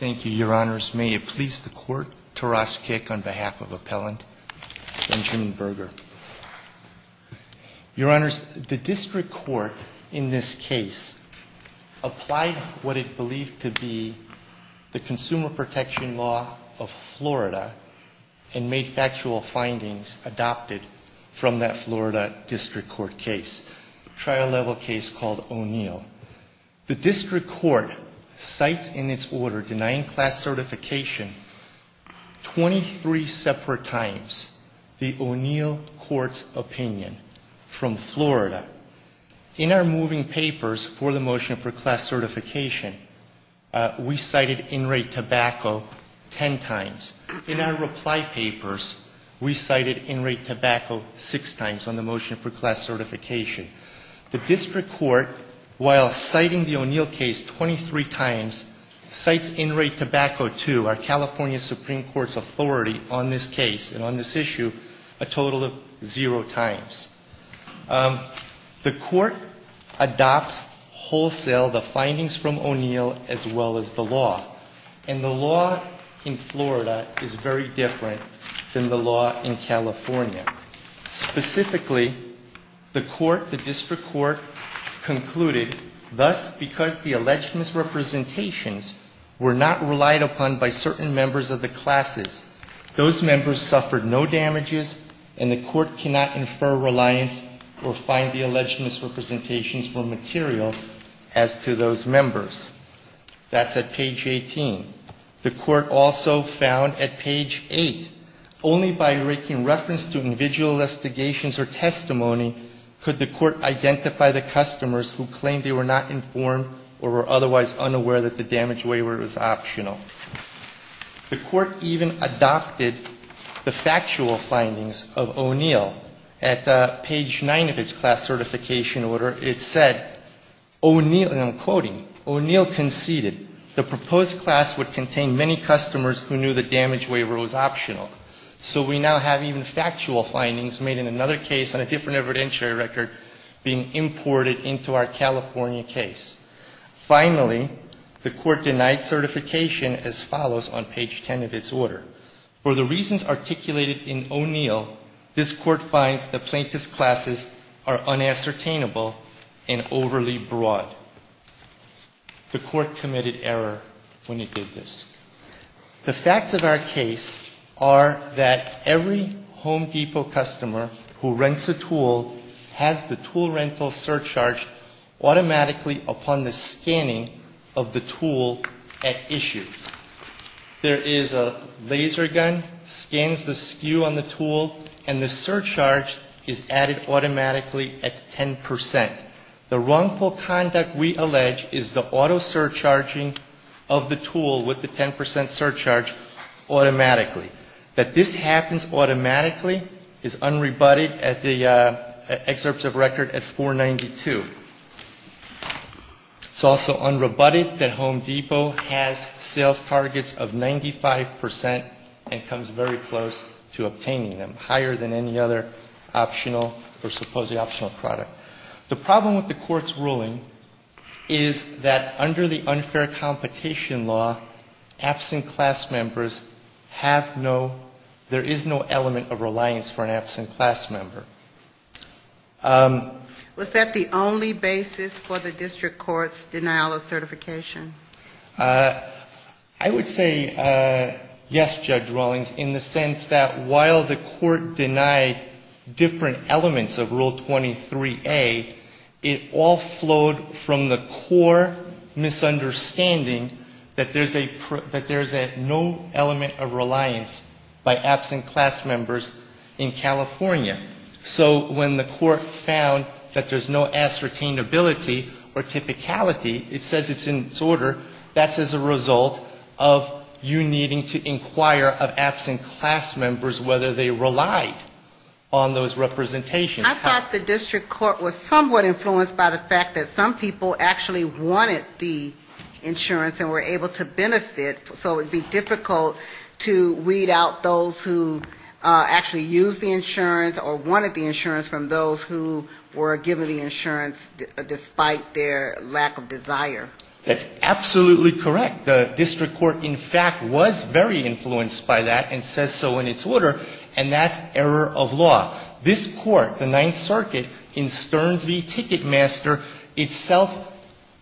May it please the Court, Taras Kick on behalf of Appellant Benjamin Berger. Your Honors, the District Court in this case applied what is believed to be the Consumer Protection Law of Florida and made actual findings adopted from that Florida District Court case, trial-level case called O'Neill. The District Court cites in its order denying class certification 23 separate times the O'Neill Court's opinion from Florida. In our moving papers for the motion for class certification, we cited in-rate tobacco 10 times. In our reply papers, we cited in-rate tobacco 6 times on the motion for class certification. The District Court, while citing the O'Neill case 23 times, cites in-rate tobacco 2, our California Supreme Court's authority on this case and on this issue, a total of 0 times. The Court adopts wholesale the findings from O'Neill as well as the law. And the law in Florida is very different than the law in California. Specifically, the District Court concluded, thus, because the alleged misrepresentations were not relied upon by certain members of the classes, those members suffered no damages and the Court cannot infer reliance or find the alleged misrepresentations were material as to those members. That's at page 18. The Court also found at page 8, only by making reference to individual investigations or testimony could the Court identify the customers who claimed they were not informed or were otherwise unaware that the damage waiver was optional. The Court even adopted the factual findings of O'Neill at page 9 of its class certification order. It said, and I'm quoting, O'Neill conceded the proposed class would contain many customers who knew the damage waiver was optional. So we now have even factual findings made in another case on a different evidentiary record being imported into our California case. Finally, the Court denied certification as follows on page 10 of its order. For the reasons articulated in O'Neill, this Court finds the plaintiff's classes are unassertainable and overly broad. The Court committed error when it did this. The facts of our case are that every Home Depot customer who rents a tool has the tool rental surcharge automatically upon the scanning of the tool at issue. There is a laser gun, scans the skew on the tool, and the surcharge is added automatically at 10%. The wrongful conduct we allege is the auto surcharging of the tool with the 10% surcharge automatically. That this happens automatically is unrebutted at the excerpts of record at 492. It's also unrebutted that Home Depot has sales targets of 95% and comes very close to obtaining them, higher than any other optional or supposedly optional product. The problem with the Court's ruling is that under the unfair competition law, absent class members have no, there is no element of reliance for an absent class member. Was that the only basis for the District Court's denial of certification? I would say yes, Judge Rawlings, in the sense that while the Court denied different elements of Rule 23A, it all flowed from the core misunderstanding that there's no element of reliance by absent class members in California. So when the Court found that there's no ascertainability or typicality, it says it's in its order, that's as a result of you needing to inquire of absent class members whether they relied on those representations. I thought the District Court was somewhat influenced by the fact that some people actually wanted the insurance and were able to benefit, so it would be difficult to weed out those who actually used the insurance or wanted the insurance from those who were given the insurance despite their lack of desire. That's absolutely correct. The District Court, in fact, was very influenced by that and said so in its order, and that's error of law. This Court, the Ninth Circuit, in Stern v. Ticketmaster, itself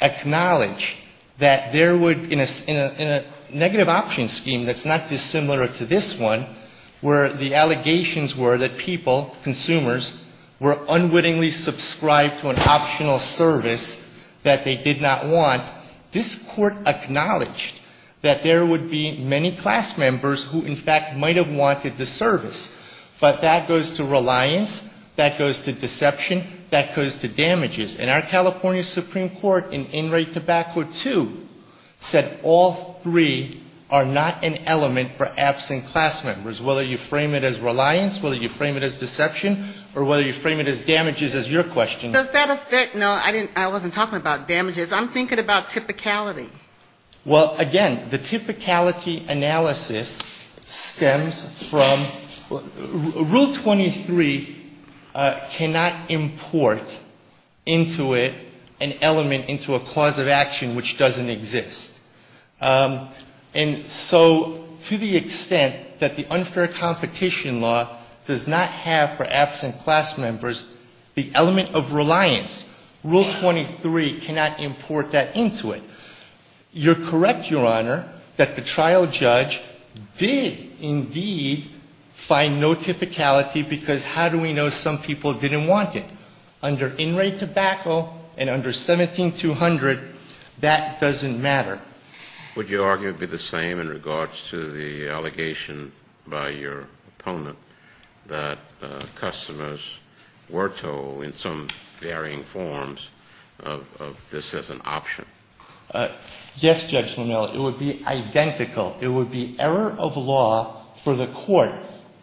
acknowledged that there would, in a negative option scheme that's not dissimilar to this one, where the allegations were that people, consumers, were unwittingly subscribed to an optional service that they did not want, this Court acknowledged that there would be many class members who, in fact, might have wanted the service, but that goes to reliance, that goes to deception, that goes to damages. And our California Supreme Court, in In Re Tobacco 2, said all three are not an element for absent class members, whether you frame it as reliance, whether you frame it as deception, or whether you frame it as damages, as your question. Does that affect – no, I wasn't talking about damages. I'm thinking about typicality. Well, again, the typicality analysis stems from – Rule 23 cannot import into it an element into a clause of action which doesn't exist. And so, to the extent that the unfair competition law does not have for absent class members the element of reliance, Rule 23 cannot import that into it. You're correct, Your Honor, that the trial judge did, indeed, find no typicality, because how do we know some people didn't want it? Under In Re Tobacco and under 17-200, that doesn't matter. Would you argue it would be the same in regards to the allegation by your opponent that customers were told in some varying forms of this as an option? Yes, Judge O'Neill, it would be identical. It would be error of law for the court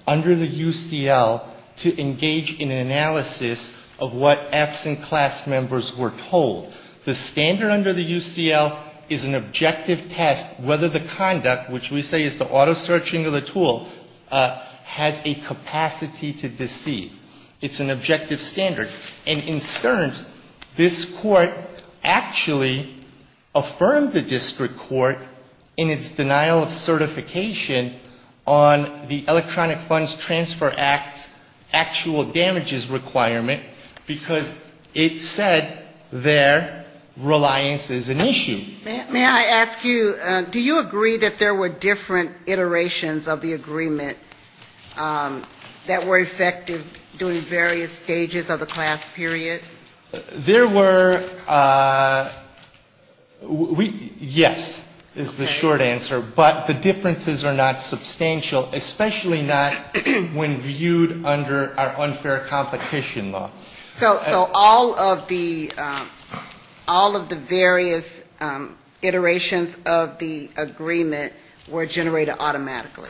under the UCL to engage in an analysis of what absent class members were told. The standard under the UCL is an objective test whether the conduct, which we say is the auto search into the tool, has a capacity to deceive. It's an objective standard. And in turn, this court actually affirmed the district court in its denial of certification on the Electronic Funds Transfer Act actual damages requirement, because it said there reliance is an issue. May I ask you, do you agree that there were different iterations of the agreement that were effective during various stages of the class period? There were. Yes, is the short answer, but the differences are not substantial, especially not when viewed under our unfair competition law. So all of the various iterations of the agreement were generated automatically.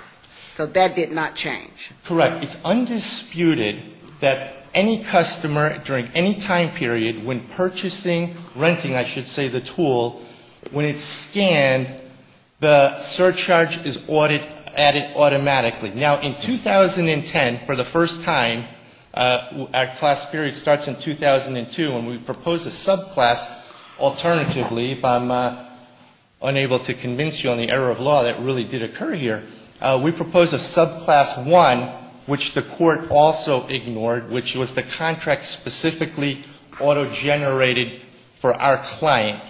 So that did not change. Correct. It's undisputed that any customer during any time period when purchasing, renting, I should say, the tool, when it's scanned, the surcharge is added automatically. Now, in 2010, for the first time, our class period starts in 2002, and we propose a subclass alternatively, if I'm unable to convince you on the error of law that really did occur here. We propose a subclass one, which the court also ignored, which was the contract specifically auto-generated for our client.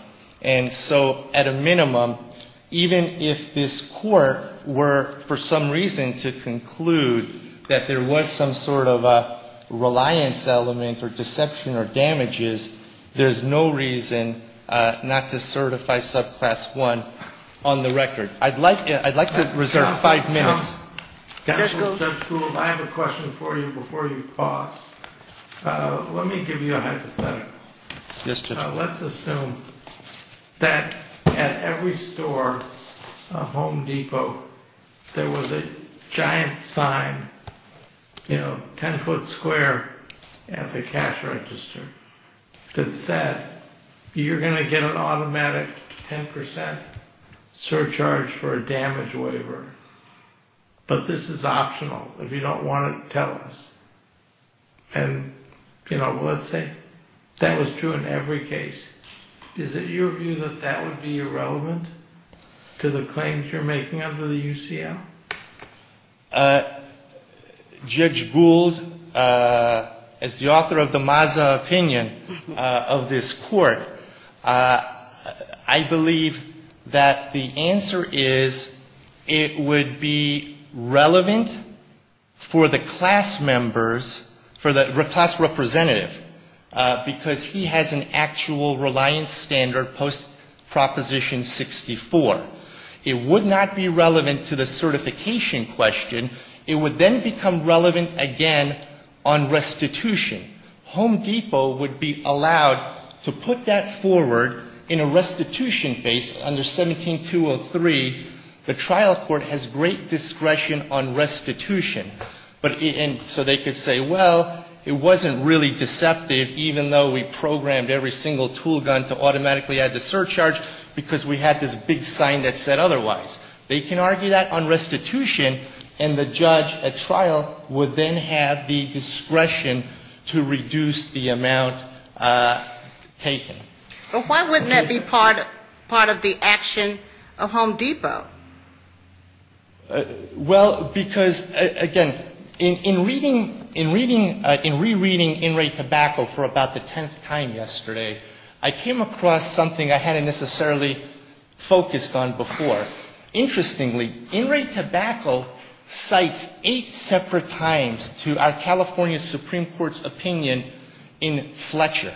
And so at a minimum, even if this court were for some reason to conclude that there was some sort of a reliance element or deception or damages, there's no reason not to certify subclass one on the record. I'd like to reserve five minutes. I have a question for you before you pause. Let me give you a hypothetical. Let's assume that at every store of Home Depot there was a giant sign, you know, 10-foot square at the cash register that said, you're going to get an automatic 10% surcharge for a damage waiver, but this is optional. If you don't want it, tell us. And, you know, let's say that was true in every case. Is it your view that that would be irrelevant to the claims you're making under the UCM? Judge Gould, as the author of the Mazda opinion of this court, I believe that the answer is it would be relevant for the class members, for the class representative, because he has an actual reliance standard post-Proposition 64. It would not be relevant to the certification question. It would then become relevant again on restitution. Home Depot would be allowed to put that forward in a restitution case under 17-203. The trial court has great discretion on restitution. And so they could say, well, it wasn't really deceptive, even though we programmed every single tool gun to automatically add the surcharge, because we had this big sign that said otherwise. They can argue that on restitution, and the judge at trial would then have the discretion to reduce the amount taken. But why wouldn't that be part of the action of Home Depot? Well, because, again, in rereading In Re Tobacco for about the tenth time yesterday, I came across something I hadn't necessarily focused on before. Interestingly, In Re Tobacco cites eight separate times to our California Supreme Court's opinion in Fletcher.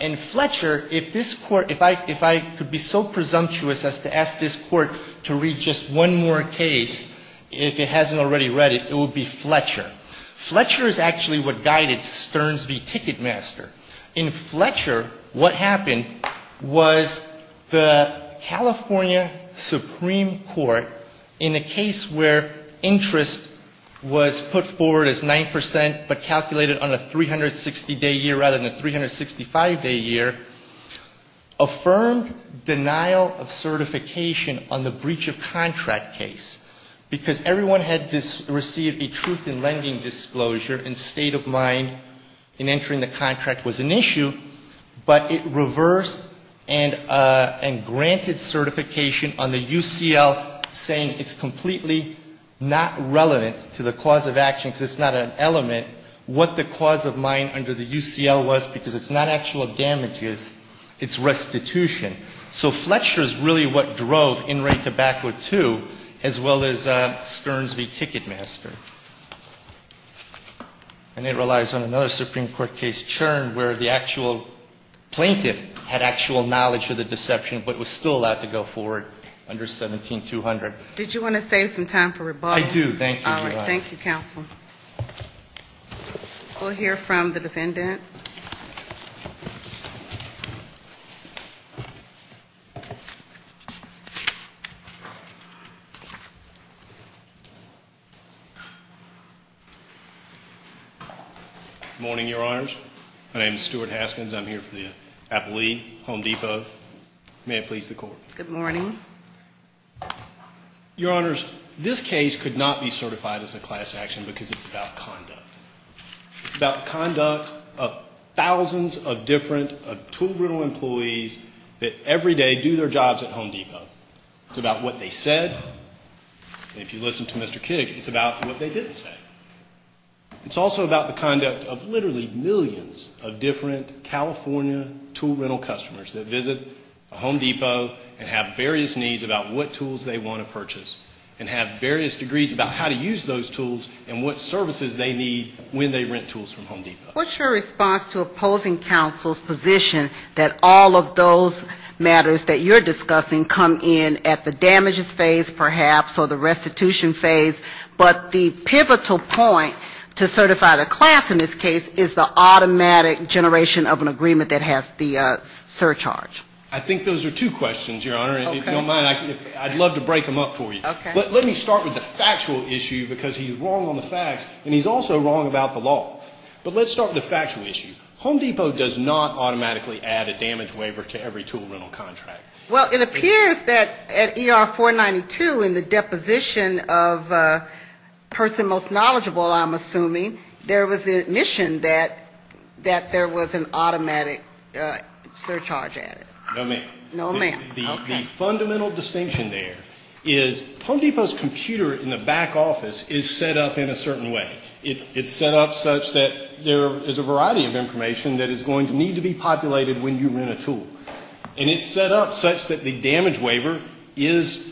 In Fletcher, if I could be so presumptuous as to ask this court to read just one more case, if it hasn't already read it, it would be Fletcher. Fletcher is actually what guided Stearns v. Ticketmaster. In Fletcher, what happened was the California Supreme Court, in a case where interest was put forward as 9 percent but calculated on a 360-day year rather than a 365-day year, affirmed denial of certification on the breach of contract case, because everyone had received a truth in lending disclosure and stayed in line in entering the contract was an issue, but it reversed and granted certification on the UCL, saying it's completely not relevant to the cause of action, because it's not an element, what the cause of mine under the UCL was, because it's not actual damages, it's restitution. So Fletcher is really what drove In Re Tobacco too, as well as Stearns v. Ticketmaster. And it relies on another Supreme Court case, Churn, where the actual plaintiff had actual knowledge of the deception, but was still allowed to go forward under 17-200. Did you want to save some time for rebuttal? I do. Thank you, Your Honor. All right. Thank you, counsel. We'll hear from the defendant. Good morning, Your Honors. My name is Stuart Haskins. I'm here for the Appalachian Home Depot. May it please the Court. Good morning. Your Honors, this case could not be certified as a class action, because it's about conduct. It's about conduct, but it's about conduct. It's about the conduct of thousands of different tool rental employees that every day do their jobs at Home Depot. It's about what they said, and if you listen to Mr. King, it's about what they didn't say. It's also about the conduct of literally millions of different California tool rental customers that visit Home Depot and have various needs about what tools they want to purchase, and have various degrees about how to use those tools and what services they need when they rent tools from Home Depot. What's your response to opposing counsel's position that all of those matters that you're discussing come in at the damages phase, perhaps, or the restitution phase, but the pivotal point to certify the class in this case is the automatic generation of an agreement that has the surcharge? I think those are two questions, Your Honor. Okay. If you don't mind, I'd love to break them up for you. Okay. But let me start with the factual issue, because he's wrong on the facts, and he's also wrong about the law. But let's start with the factual issue. Home Depot does not automatically add a damage waiver to every tool rental contract. Well, it appears that at ER 492, in the deposition of a person most knowledgeable, I'm assuming, there was an admission that there was an automatic surcharge added. No, ma'am. The fundamental distinction there is Home Depot's computer in the back office is set up in a certain way. It's set up such that there is a variety of information that is going to need to be populated when you rent a tool. And it's set up such that the damage waiver is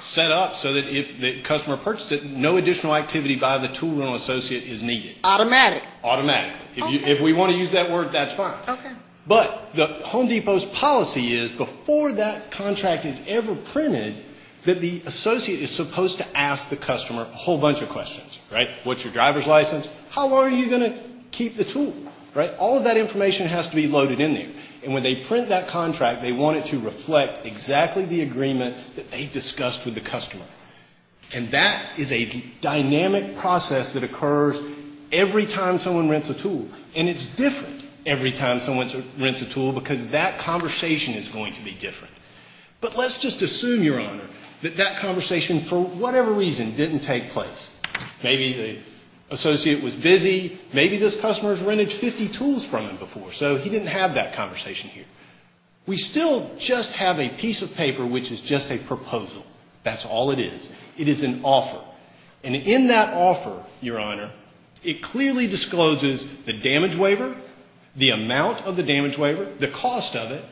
set up so that if the customer purchased it, no additional activity by the tool rental associate is needed. Automatic. Automatic. If we want to use that word, that's fine. Okay. But the Home Depot's policy is, before that contract is ever printed, that the associate is supposed to ask the customer a whole bunch of questions. Right? What's your driver's license? How are you going to keep the tool? Right? All of that information has to be loaded in there. And when they print that contract, they want it to reflect exactly the agreement that they discussed with the customer. And that is a dynamic process that occurs every time someone rents a tool. And it's different every time someone rents a tool because that conversation is going to be different. But let's just assume, Your Honor, that that conversation, for whatever reason, didn't take place. Maybe the associate was busy. Maybe this customer has rented 50 tools from him before, so he didn't have that conversation here. We still just have a piece of paper which is just a proposal. That's all it is. It is an offer. And in that offer, Your Honor, it clearly discloses the damage waiver, the amount of the damage waiver, the cost of it,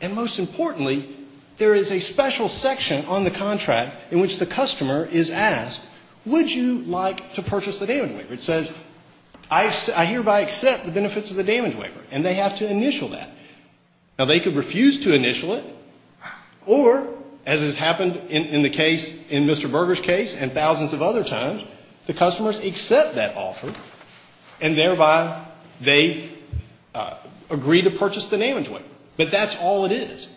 and most importantly, there is a special section on the contract in which the customer is asked, would you like to purchase the damage waiver? It says, I hereby accept the benefits of the damage waiver. And they have to initial that. Now, they could refuse to initial it or, as has happened in the case, in Mr. Berger's case and thousands of other times, the customers accept that offer and thereby they agree to purchase the damage waiver. But that's all it is.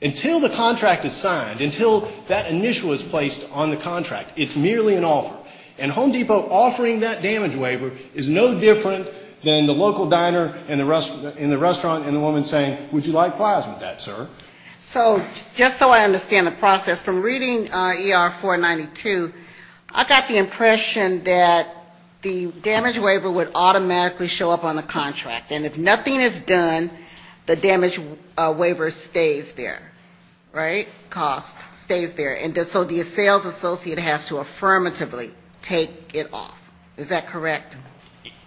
Until the contract is signed, until that initial is placed on the contract, it's merely an offer. And Home Depot offering that damage waiver is no different than the local diner in the restaurant and the woman saying, would you like flyers with that, sir? So just so I understand the process, from reading ER 492, I got the impression that the damage waiver would automatically show up on the contract. And if nothing is done, the damage waiver stays there, right? Cost stays there. And so the sales associate has to affirmatively take it off. Is that correct?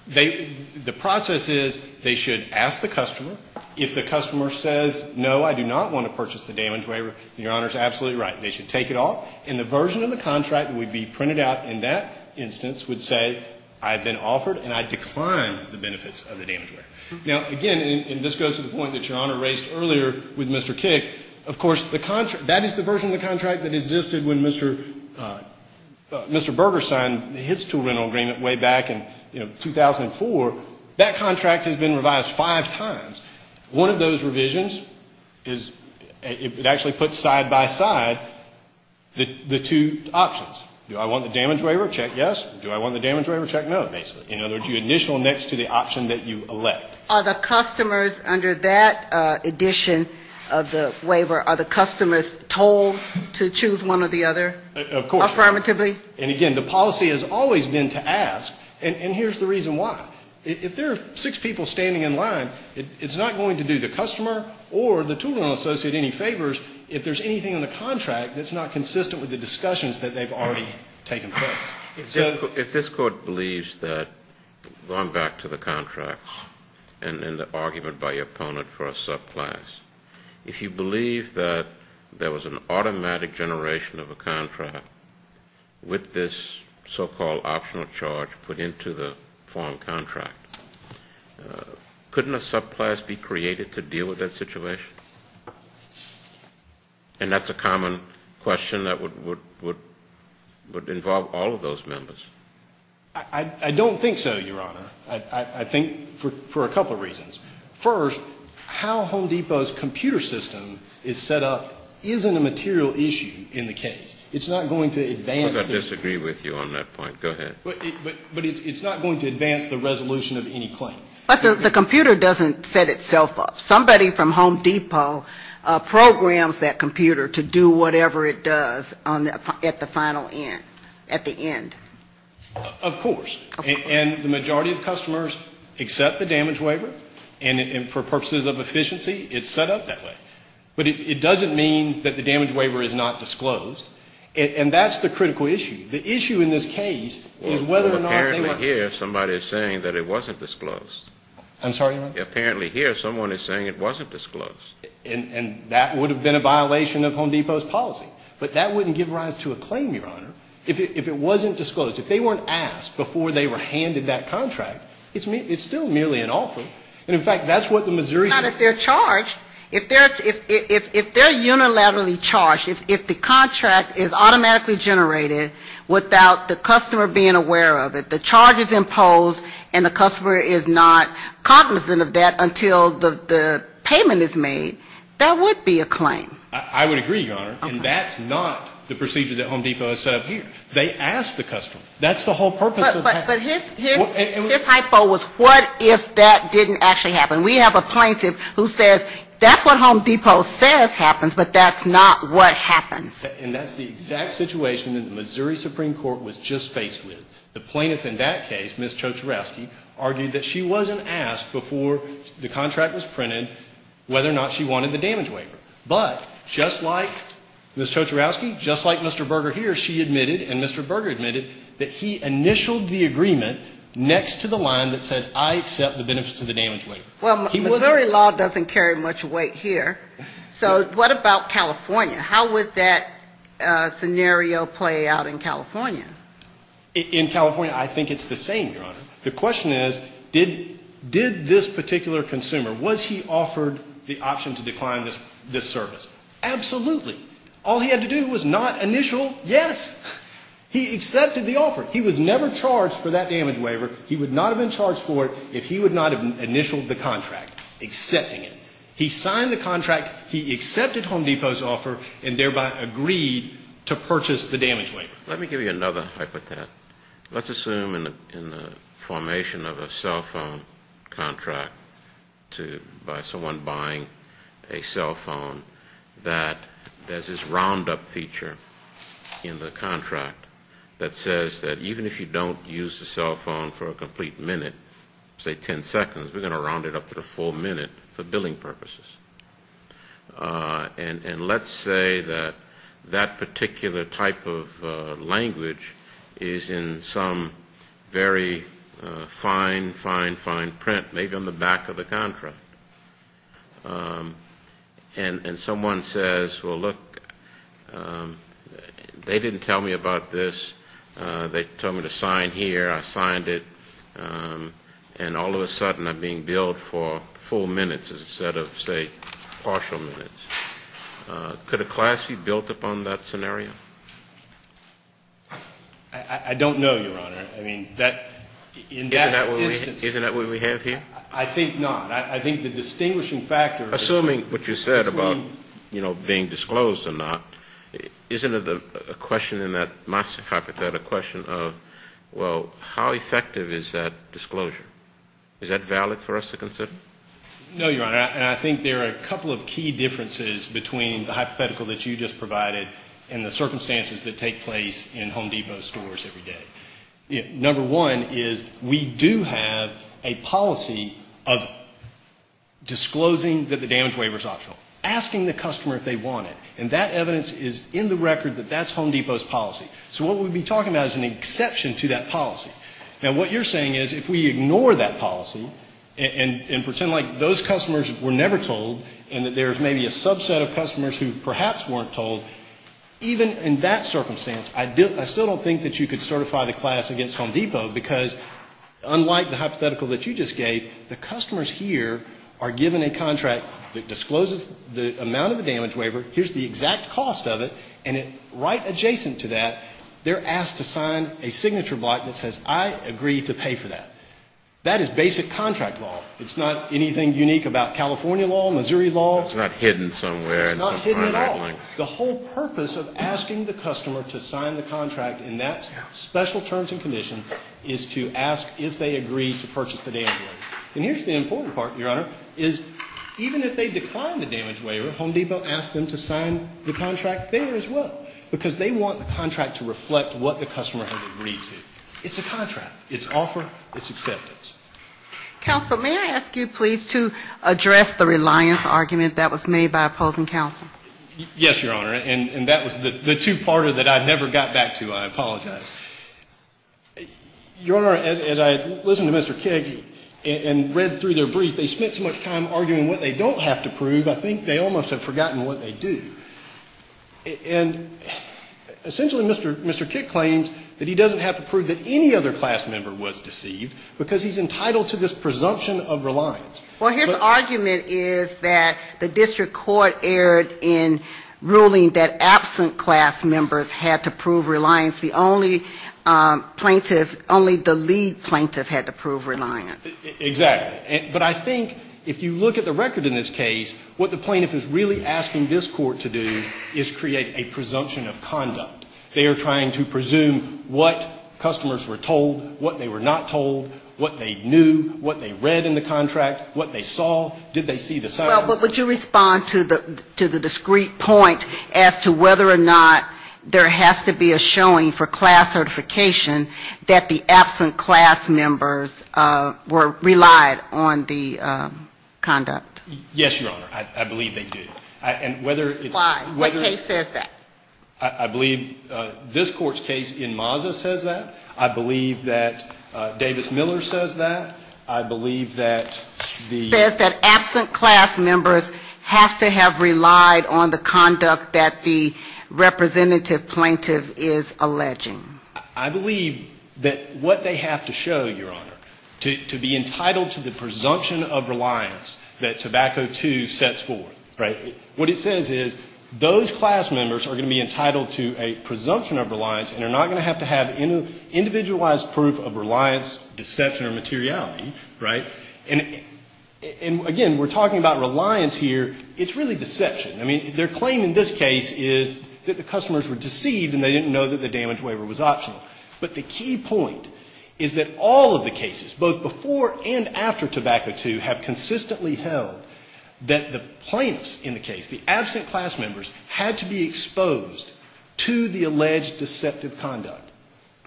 The process is they should ask the customer. If the customer says, no, I do not want to purchase the damage waiver, the owner is absolutely right. They should take it off. And the version of the contract would be printed out, and that instance would say, I've been offered and I decline the benefits of the damage waiver. Now, again, and this goes to the point that your Honor raised earlier with Mr. Kick, of course, that is the version of the contract that existed when Mr. Berger signed his two rental agreement way back in 2004. That contract has been revised five times. One of those revisions is it actually puts side by side the two options. Do I want the damage waiver? Check, yes. Do I want the damage waiver? Check, no, basically. In other words, you initial next to the option that you elect. Are the customers under that addition of the waiver, are the customers told to choose one or the other? Of course. Affirmatively? And, again, the policy has always been to ask, and here's the reason why. If there are six people standing in line, it's not going to do the customer or the two rental associate any favors if there's anything in the contract that's not consistent with the discussions that they've already taken place. If this Court believes that, going back to the contracts and in the argument by your opponent for a subclass, if you believe that there was an automatic generation of a contract with this so-called optional charge put into the foreign contract, couldn't a subclass be created to deal with that situation? And that's a common question that would involve all of those members. I don't think so, Your Honor. I think for a couple reasons. First, how Home Depot's computer system is set up isn't a material issue in the case. It's not going to advance. I disagree with you on that point. Go ahead. But it's not going to advance the resolution of any claim. But the computer doesn't set itself up. Somebody from Home Depot programs that computer to do whatever it does at the final end, at the end. Of course. And the majority of customers accept the damage waiver. And for purposes of efficiency, it's set up that way. But it doesn't mean that the damage waiver is not disclosed. And that's the critical issue. The issue in this case is whether or not it was. Apparently here, somebody is saying that it wasn't disclosed. I'm sorry, Your Honor? Apparently here, someone is saying it wasn't disclosed. And that would have been a violation of Home Depot's policy. But that wouldn't give rise to a claim, Your Honor, if it wasn't disclosed. If they weren't asked before they were handed that contract, it's still merely an offer. And, in fact, that's what the Missouris- Not if they're charged. If they're unilaterally charged, if the contract is automatically generated without the customer being aware of it, the charge is imposed and the customer is not cognizant of that until the payment is made, that would be a claim. I would agree, Your Honor. And that's not the procedure that Home Depot has set up here. They ask the customer. That's the whole purpose of that. But here's my thought was, what if that didn't actually happen? We have a plaintiff who says, that's what Home Depot says happens, but that's not what happens. And that's the exact situation that the Missouri Supreme Court was just faced with. The plaintiff in that case, Ms. Tchotcharovsky, argued that she wasn't asked before the contract was printed whether or not she wanted the damage waiver. But, just like Ms. Tchotcharovsky, just like Mr. Berger here, she admitted, and Mr. Berger admitted, that he initialed the agreement next to the line that said, I set the benefits to the damage waiver. Well, Missouri law doesn't carry much weight here. So what about California? How would that scenario play out in California? In California, I think it's the same, Your Honor. The question is, did this particular consumer, was he offered the option to decline this service? Absolutely. All he had to do was not initial, yes. He accepted the offer. He was never charged for that damage waiver. He would not have been charged for it if he would not have initialed the contract, accepting it. He signed the contract. He accepted Home Depot's offer, and thereby agreed to purchase the damage waiver. Let me give you another hypothesis. Let's assume in the formation of a cell phone contract by someone buying a cell phone that there's this roundup feature in the contract that says that even if you don't use the cell phone for a complete minute, say 10 seconds, we're going to round it up to the full minute for billing purposes. And let's say that that particular type of language is in some very fine, fine, fine print, maybe on the back of the contract. And someone says, well, look, they didn't tell me about this. They told me to sign here. I signed it. And all of a sudden I'm being billed for full minutes instead of, say, partial minutes. Could a class be built upon that scenario? I don't know, Your Honor. Isn't that what we have here? I think not. I think the distinguishing factor is between – Assuming what you said about being disclosed or not, isn't it a question in that Moxie hypothetical, a question of, well, how effective is that disclosure? Is that valid for us to consider? No, Your Honor. I think there are a couple of key differences between the hypothetical that you just provided and the circumstances that take place in Home Depot stores every day. Number one is we do have a policy of disclosing that the damage waiver is optional, asking the customer if they want it. And that evidence is in the record that that's Home Depot's policy. So what we'd be talking about is an exception to that policy. Now, what you're saying is if we ignore that policy and pretend like those customers were never told and that there's maybe a subset of customers who perhaps weren't told, even in that circumstance I still don't think that you could certify the class against Home Depot because unlike the hypothetical that you just gave, the customers here are given a contract that discloses the amount of the damage waiver, here's the exact cost of it, and right adjacent to that they're asked to sign a signature block that says, I agree to pay for that. That is basic contract law. It's not anything unique about California law, Missouri law. It's not hidden somewhere. It's not hidden at all. The whole purpose of asking the customer to sign the contract in that special terms and condition is to ask if they agree to purchase the damage waiver. And here's the important part, Your Honor, is even if they decline the damage waiver, Home Depot asks them to sign the contract there as well because they want the contract to reflect what the customer has agreed to. It's a contract. It's offer. It's acceptance. Counsel, may I ask you please to address the reliance argument that was made by opposing counsel? Yes, Your Honor, and that was the two-parter that I never got back to. I apologize. Your Honor, as I listened to Mr. Kidd and read through their brief, they spent so much time arguing what they don't have to prove, I think they almost have forgotten what they do. And essentially Mr. Kidd claims that he doesn't have to prove that any other class member was deceived because he's entitled to this presumption of reliance. Well, his argument is that the district court erred in ruling that absent class members had to prove reliance. The only plaintiff, only the lead plaintiff had to prove reliance. Exactly. But I think if you look at the record in this case, what the plaintiff is really asking this court to do is create a presumption of conduct. They are trying to presume what customers were told, what they were not told, what they knew, what they read in the contract, what they saw. Did they see the sign? Well, but would you respond to the discrete point as to whether or not there has to be a showing for class certification that the absent class members were relied on the conduct? Yes, Your Honor. I believe they do. And whether it's... Why? What case says that? I believe this court's case in Mazda says that. I believe that Davis Miller says that. I believe that the... It says that absent class members have to have relied on the conduct that the representative plaintiff is alleging. I believe that what they have to show, Your Honor, to be entitled to the presumption of reliance that Tobacco II sets forth. What it says is those class members are going to be entitled to a presumption of reliance and they're not going to have to have individualized proof of reliance, deception, or materiality, right? And again, we're talking about reliance here. It's really deception. I mean, their claim in this case is that the customers were deceived and they didn't know that the damage waiver was optional. But the key point is that all of the cases, both before and after Tobacco II, have consistently held that the plaintiffs in the case, the absent class members, had to be exposed to the alleged deceptive conduct.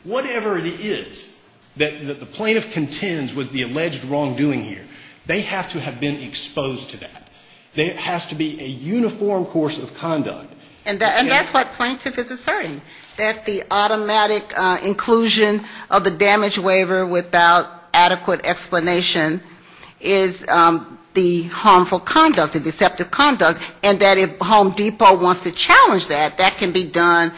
Whatever it is that the plaintiff contends with the alleged wrongdoing here, they have to have been exposed to that. There has to be a uniform course of conduct. And that's what plaintiff is asserting. That the automatic inclusion of the damage waiver without adequate explanation is the harmful conduct, the deceptive conduct, and that if Home Depot wants to challenge that, that can be done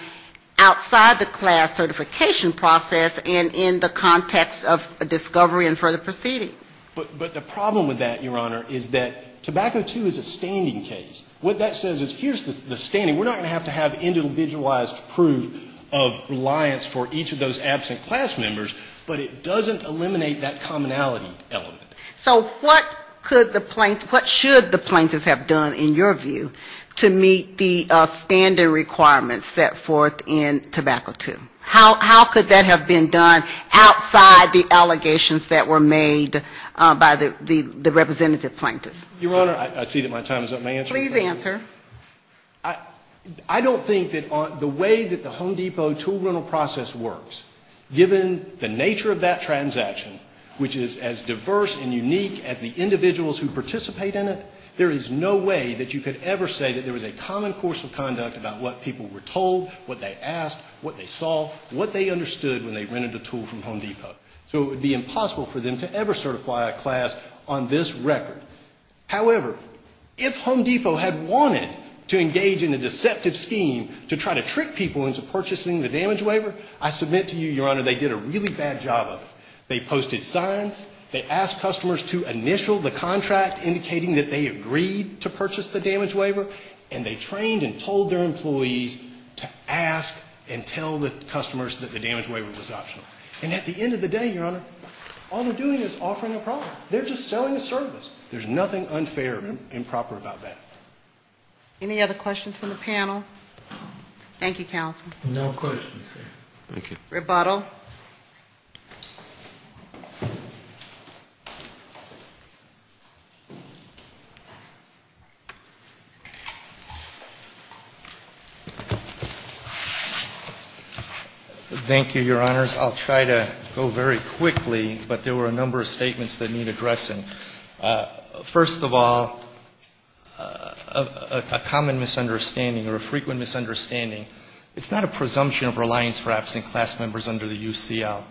outside the class certification process and in the context of discovery and further proceeding. But the problem with that, Your Honor, is that Tobacco II is a standing case. What that says is here's the standing. We're not going to have to have individualized proof of reliance for each of those absent class members, but it doesn't eliminate that commonality element. So what should the plaintiffs have done, in your view, to meet the standing requirements set forth in Tobacco II? How could that have been done outside the allegations that were made by the representative plaintiffs? Your Honor, I see that my time is up. I don't think that the way that the Home Depot tool rental process works, given the nature of that transaction, which is as diverse and unique as the individuals who participate in it, there is no way that you could ever say that there was a common course of conduct about what people were told, what they asked, what they saw, what they understood when they rented the tool from Home Depot. So it would be impossible for them to ever certify a class on this record. However, if Home Depot had wanted to engage in a deceptive scheme to try to trick people into purchasing the damage waiver, I submit to you, Your Honor, they did a really bad job of it. They posted signs, they asked customers to initial the contract indicating that they agreed to purchase the damage waiver, and they trained and told their employees to ask and tell the customers that the damage waiver was an option. And at the end of the day, Your Honor, all they're doing is offering a product. They're just selling a service. There's nothing unfair and improper about that. Any other questions from the panel? Thank you, counsel. No questions. Thank you. Rebuttal. Thank you, Your Honors. I'll try to go very quickly, but there were a number of statements that need addressing. First of all, a common misunderstanding or a frequent misunderstanding, it's not a presumption of reliance for absent class members under the UCL.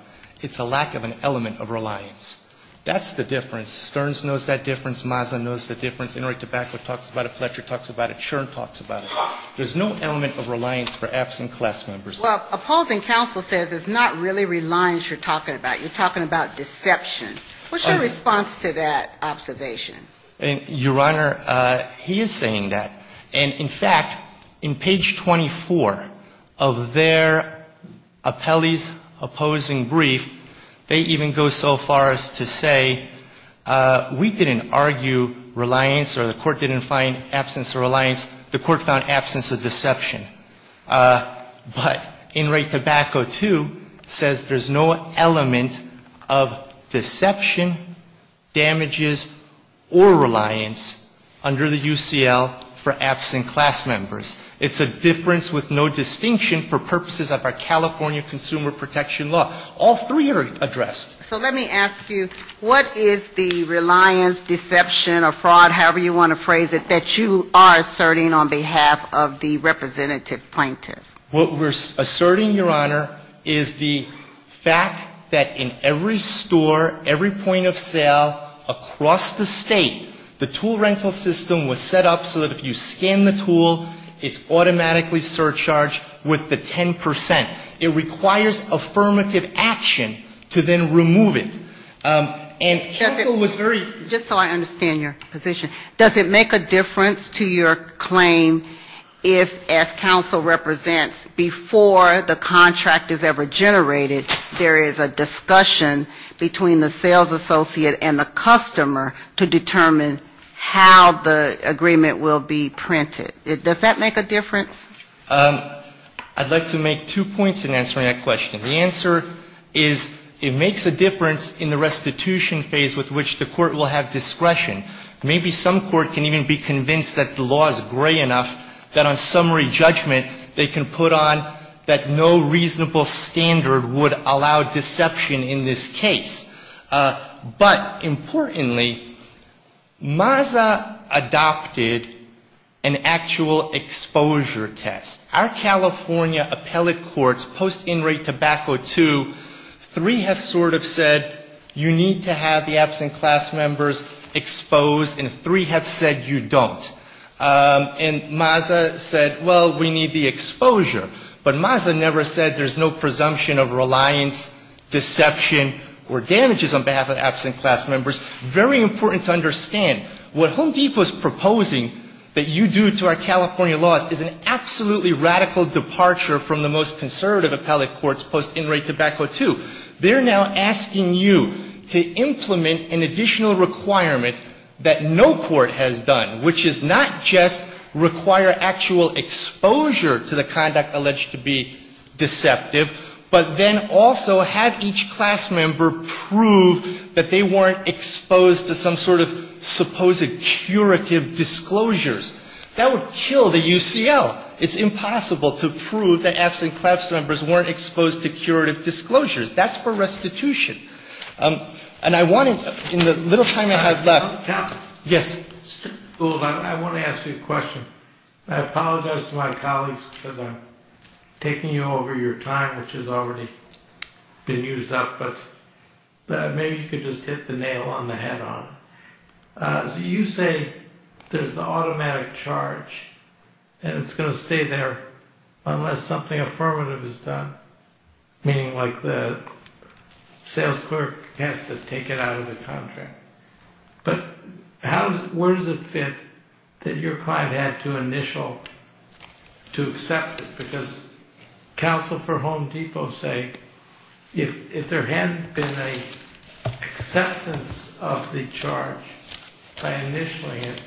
It's a lack of an element of reliance. That's the difference. Stearns knows that difference. Mazza knows the difference. Ingrid DeBacco talks about it. Fletcher talks about it. Chern talks about it. There's no element of reliance for absent class members. Well, opposing counsel says it's not really reliance you're talking about. You're talking about deception. What's your response to that observation? Your Honor, he is saying that. And, in fact, in page 24 of their appellee's opposing brief, they even go so far as to say we didn't argue reliance or the court didn't find absence of reliance. The court found absence of deception. But Ingrid DeBacco, too, says there's no element of deception, damages, or reliance under the UCL for absent class members. It's a difference with no distinction for purposes of our California Consumer Protection Law. All three are addressed. So let me ask you, what is the reliance, deception, or fraud, however you want to phrase it, that you are asserting on behalf of the representative plaintiff? What we're asserting, Your Honor, is the fact that in every store, every point of sale across the state, the tool rental system was set up so that if you scan the tool, it's automatically surcharged with the 10%. It requires affirmative action to then remove it. Just so I understand your position, does it make a difference to your claim if, as counsel represents, before the contract is ever generated, there is a discussion between the sales associate and the customer to determine how the agreement will be printed? Does that make a difference? I'd like to make two points in answering that question. The answer is it makes a difference in the restitution phase with which the court will have discretion. Maybe some court can even be convinced that the law is gray enough that on summary judgment, they can put on that no reasonable standard would allow deception in this case. But importantly, MAZA adopted an actual exposure test. Our California appellate courts post-in-rate tobacco 2, 3 have sort of said you need to have the absent class members exposed and 3 have said you don't. And MAZA said, well, we need the exposure. But MAZA never said there's no presumption of reliance, deception, or damages on behalf of absent class members. Very important to understand. What Home Depot is proposing that you do to our California laws is an absolutely radical departure from the most conservative appellate courts post-in-rate tobacco 2. They're now asking you to implement an additional requirement that no court has done, which is not just require actual exposure to the conduct alleged to be deceptive, but then also have each class member prove that they weren't exposed to some sort of supposed curative disclosures. That would kill the UCL. It's impossible to prove that absent class members weren't exposed to curative disclosures. That's for restitution. And I want to, in the little time I have left. Yes. I want to ask you a question. I apologize to my colleagues for taking you over your time, which has already been used up, but maybe you could just hit the nail on the head on. You say there's an automatic charge and it's going to stay there unless something affirmative is done, meaning like the sales clerk has to take it out of the contract. But where does it fit that your client had to initial to accept it? Because counsel for Home Depot say if there hadn't been an acceptance of the charge by initialing it,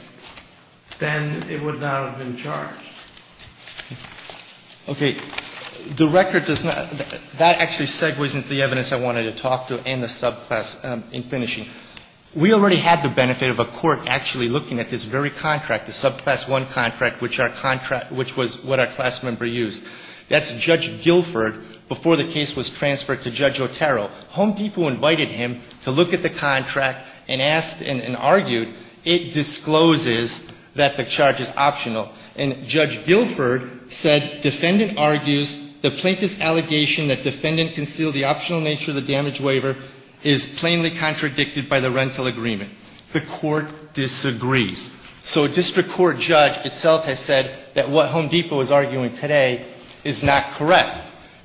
then it would not have been charged. Okay. That actually segues into the evidence I wanted to talk to and the subclass in finishing. We already had the benefit of a court actually looking at this very contract, the subclass one contract, which was what our class member used. That's Judge Guilford before the case was transferred to Judge Otero. Home Depot invited him to look at the contract and argued it discloses that the charge is optional and Judge Guilford said defendant argues the plaintiff's allegation that defendant concealed the optional nature of the damage waiver is plainly contradicted by the rental agreement. The court disagrees. So a district court judge itself has said that what Home Depot is arguing today is not correct.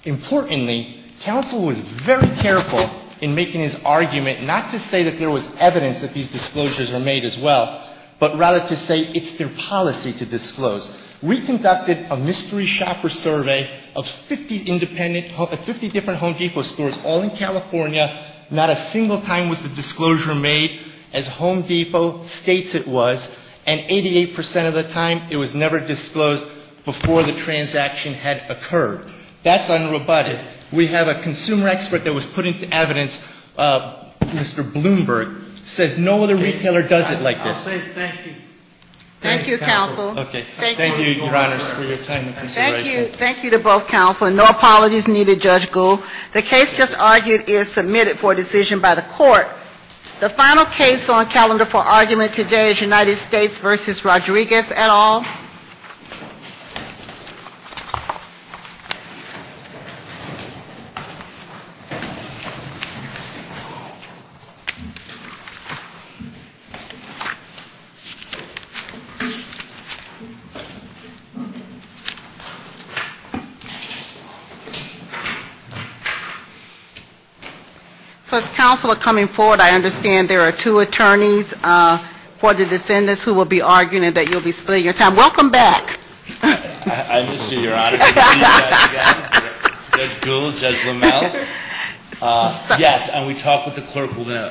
Importantly, counsel was very careful in making his argument not to say that there was evidence that these disclosures were made as well, but rather to say it's their policy to disclose. We conducted a mystery shopper survey of 50 different Home Depot stores all in California. Not a single time was a disclosure made as Home Depot states it was, and 88% of the time it was never disclosed before the transaction had occurred. That's unrebutted. We have a consumer expert that was put into evidence, Mr. Bloomberg, says no other retailer does it like this. Thank you. Thank you, counsel. Thank you, Your Honor, for your time and consideration. Thank you to both counsel. No apologies needed, Judge Gould. The case just argued is submitted for decision by the court. The final case on the calendar for argument today is United States v. Rodriguez et al. So, as counsel are coming forward, I understand there are two attorneys for the defendants who will be arguing and that you'll be spending your time. Welcome back. I'm just here, Your Honor. Judge Gould, Judge Lomel.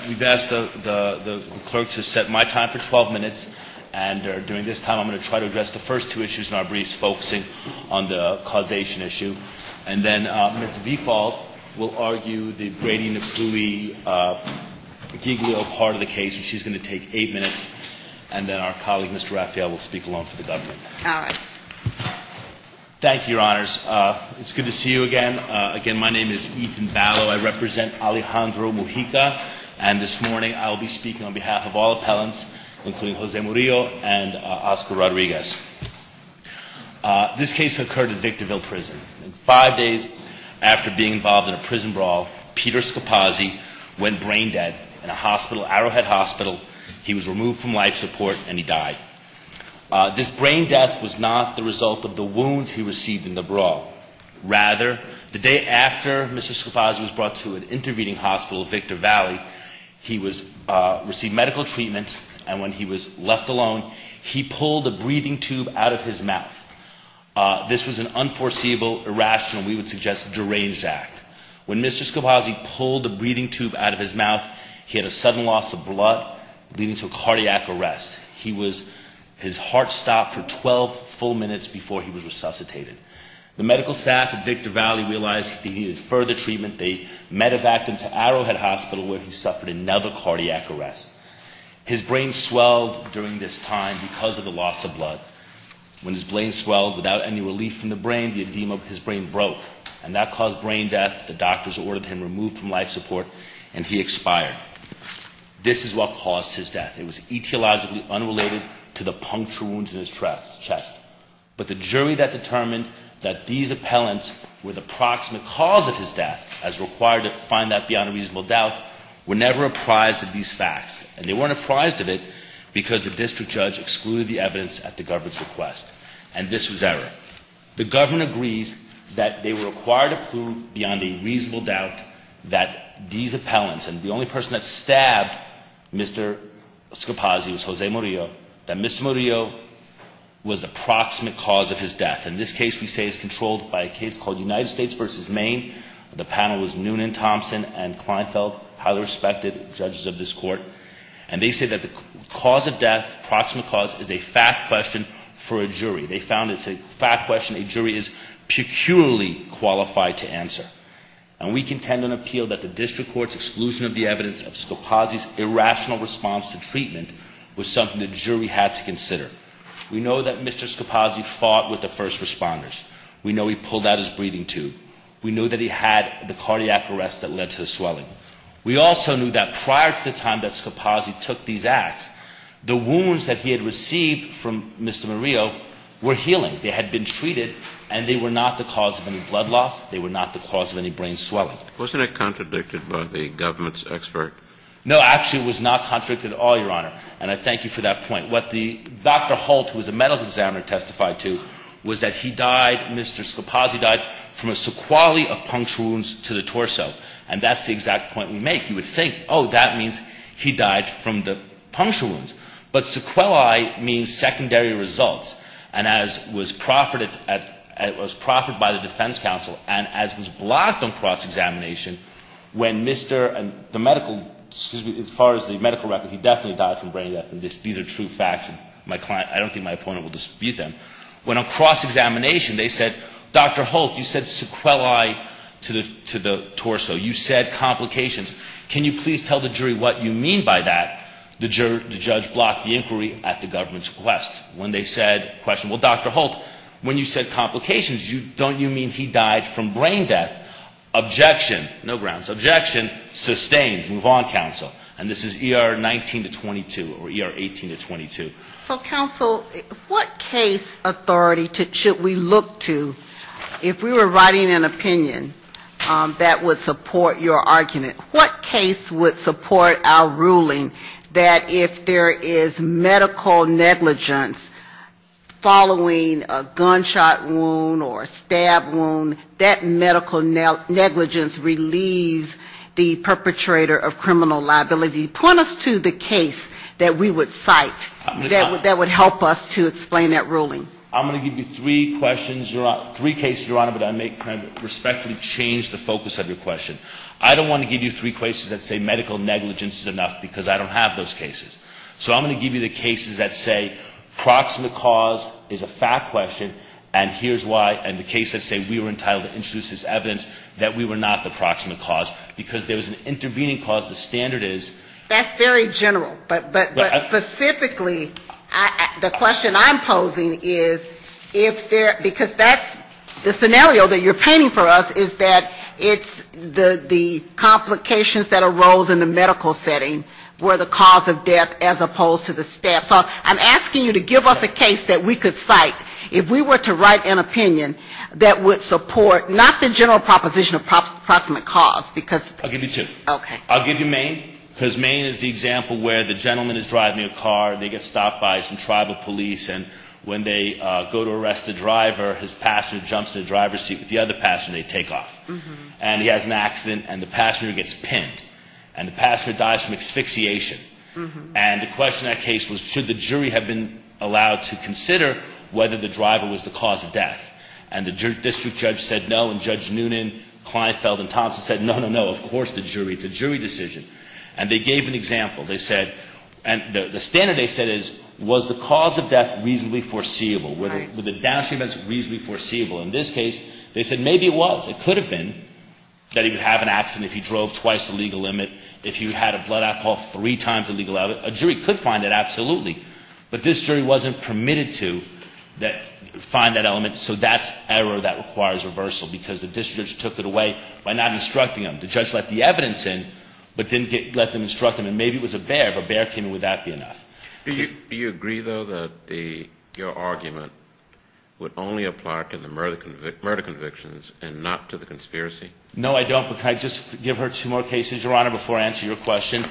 We've asked the clerk to set my time for 12 minutes, and during this time I'm going to try to address the first two issues in our briefs, focusing on the causation issue. And then Ms. Vifal will argue the gradient of fluidity, giggly old part of the case, which is going to take eight minutes, and then our colleague, Mr. Rafael, will speak along for the government. All right. Thank you, Your Honors. It's good to see you again. Again, my name is Ethan Battle. I represent Alejandro Mojica, and this morning I will be speaking on behalf of all appellants, including Jose Murillo and Oscar Rodriguez. This case occurred at Victorville Prison. Five days after being involved in a prison brawl, Peter Scapazzi went brain dead in a hospital, Arrowhead Hospital. He was removed from life support, and he died. This brain death was not the result of the wound he received in the brawl. Rather, the day after Mr. Scapazzi was brought to an intervening hospital at Victor Valley, he received medical treatment, and when he was left alone, he pulled a breathing tube out of his mouth. This was an unforeseeable, irrational, we would suggest deranged act. When Mr. Scapazzi pulled the breathing tube out of his mouth, he had a sudden loss of blood, leading to a cardiac arrest. His heart stopped for 12 full minutes before he was resuscitated. The medical staff at Victor Valley realized he needed further treatment. They medevaced him to Arrowhead Hospital, where he suffered another cardiac arrest. His brain swelled during this time because of the loss of blood. When his brain swelled without any relief from the brain, the edema of his brain broke, and that caused brain death. The doctors ordered him removed from life support, and he expired. This is what caused his death. It was etiologically unrelated to the puncture wounds in his chest. But the jury that determined that these appellants were the proximate cause of his death, as required to find that beyond a reasonable doubt, were never apprised of these facts. And they weren't apprised of it because the district judge excluded the evidence at the government's request. And this was error. The government agrees that they were required to prove beyond a reasonable doubt that these appellants, and the only person that stabbed Mr. Scapazzi was Jose Murillo, that Mr. Murillo was the proximate cause of his death. In this case, we say it's controlled by a case called United States v. Maine. The panel was Noonan, Thompson, and Kleinfeld, highly respected judges of this court. And they say that the cause of death, proximate cause, is a fact question for a jury. They found it's a fact question a jury is peculiarly qualified to answer. And we contend and appeal that the district court's exclusion of the evidence of Scapazzi's irrational response to treatment was something the jury had to consider. We know that Mr. Scapazzi fought with the first responders. We know he pulled out his breathing tube. We know that he had the cardiac arrest that led to the swelling. We also knew that prior to the time that Scapazzi took these acts, the wounds that he had received from Mr. Murillo were healing. They had been treated, and they were not the cause of any blood loss. They were not the cause of any brain swelling. Wasn't that contradicted by the government's expert? No, actually, it was not contradicted at all, Your Honor. And I thank you for that point. What Dr. Holt, who was a medical examiner, testified to was that he died, Mr. Scapazzi died, from a sequelae of puncture wounds to the torso. And that's the exact point we make. You would think, oh, that means he died from the puncture wounds. But sequelae means secondary results, and as was proffered by the defense counsel, and as was blocked on cross-examination, when Mr. and the medical, excuse me, as far as the medical record, he definitely died from brain leprosy. These are true facts, and I don't think my opponent will dispute them. When on cross-examination, they said, Dr. Holt, you said sequelae to the torso. You said complications. Can you please tell the jury what you mean by that? The judge blocked the inquiry at the government's request. When they said, well, Dr. Holt, when you said complications, don't you mean he died from brain death? Objection. No grounds. Objection. Sustained. Move on, counsel. And this is ER 19-22, or ER 18-22. So, counsel, what case authority should we look to, if we were writing an opinion, that would support your argument? What case would support our ruling that if there is medical negligence following a gunshot wound or a stab wound, that medical negligence relieves the perpetrator of criminal liability? Point us to the case that we would cite that would help us to explain that ruling. I'm going to give you three questions, three cases, Your Honor, but I may kind of respectfully change the focus of your question. I don't want to give you three cases that say medical negligence is enough, because I don't have those cases. So I'm going to give you the cases that say proximate cause is a fact question, and here's why, and the cases that say we were entitled to introduce this evidence, that we were not the proximate cause, because there was an intervening cause, the standard is. That's very general, but specifically, the question I'm posing is, because that's the scenario that you're painting for us, is that it's the complications that arose in the medical setting were the cause of death as opposed to the stab. So I'm asking you to give us a case that we could cite. If we were to write an opinion that would support not the general proposition of proximate cause, because – I'll give you two. Okay. I'll give you Maine, because Maine is the example where the gentleman is driving a car, and they get stopped by some tribal police, and when they go to arrest the driver, his passenger jumps in the driver's seat with the other passenger, and they take off. And he has an accident, and the passenger gets pinned, and the passenger dies from asphyxiation. And the question in that case was should the jury have been allowed to consider whether the driver was the cause of death. And the district judge said no, and Judge Noonan, Kleinfeld, and Thompson said no, no, no, of course the jury. It's a jury decision. And they gave an example. They said – and the standard they said is was the cause of death reasonably foreseeable? Right. Was the downshifting reasonably foreseeable? In this case, they said maybe it was. It could have been that he would have an accident if he drove twice the legal limit, if he had a blood alcohol three times the legal limit. A jury could find that, absolutely. But this jury wasn't permitted to find that element, so that's error that requires reversal, because the district judge took it away by not instructing him. The judge let the evidence in, but didn't let them instruct him. And maybe it was a bear. If a bear came in, would that be enough? Do you agree, though, that your argument would only apply to the murder convictions and not to the conspiracy? No, I don't. But can I just give her two more cases, Your Honor, before I answer your question?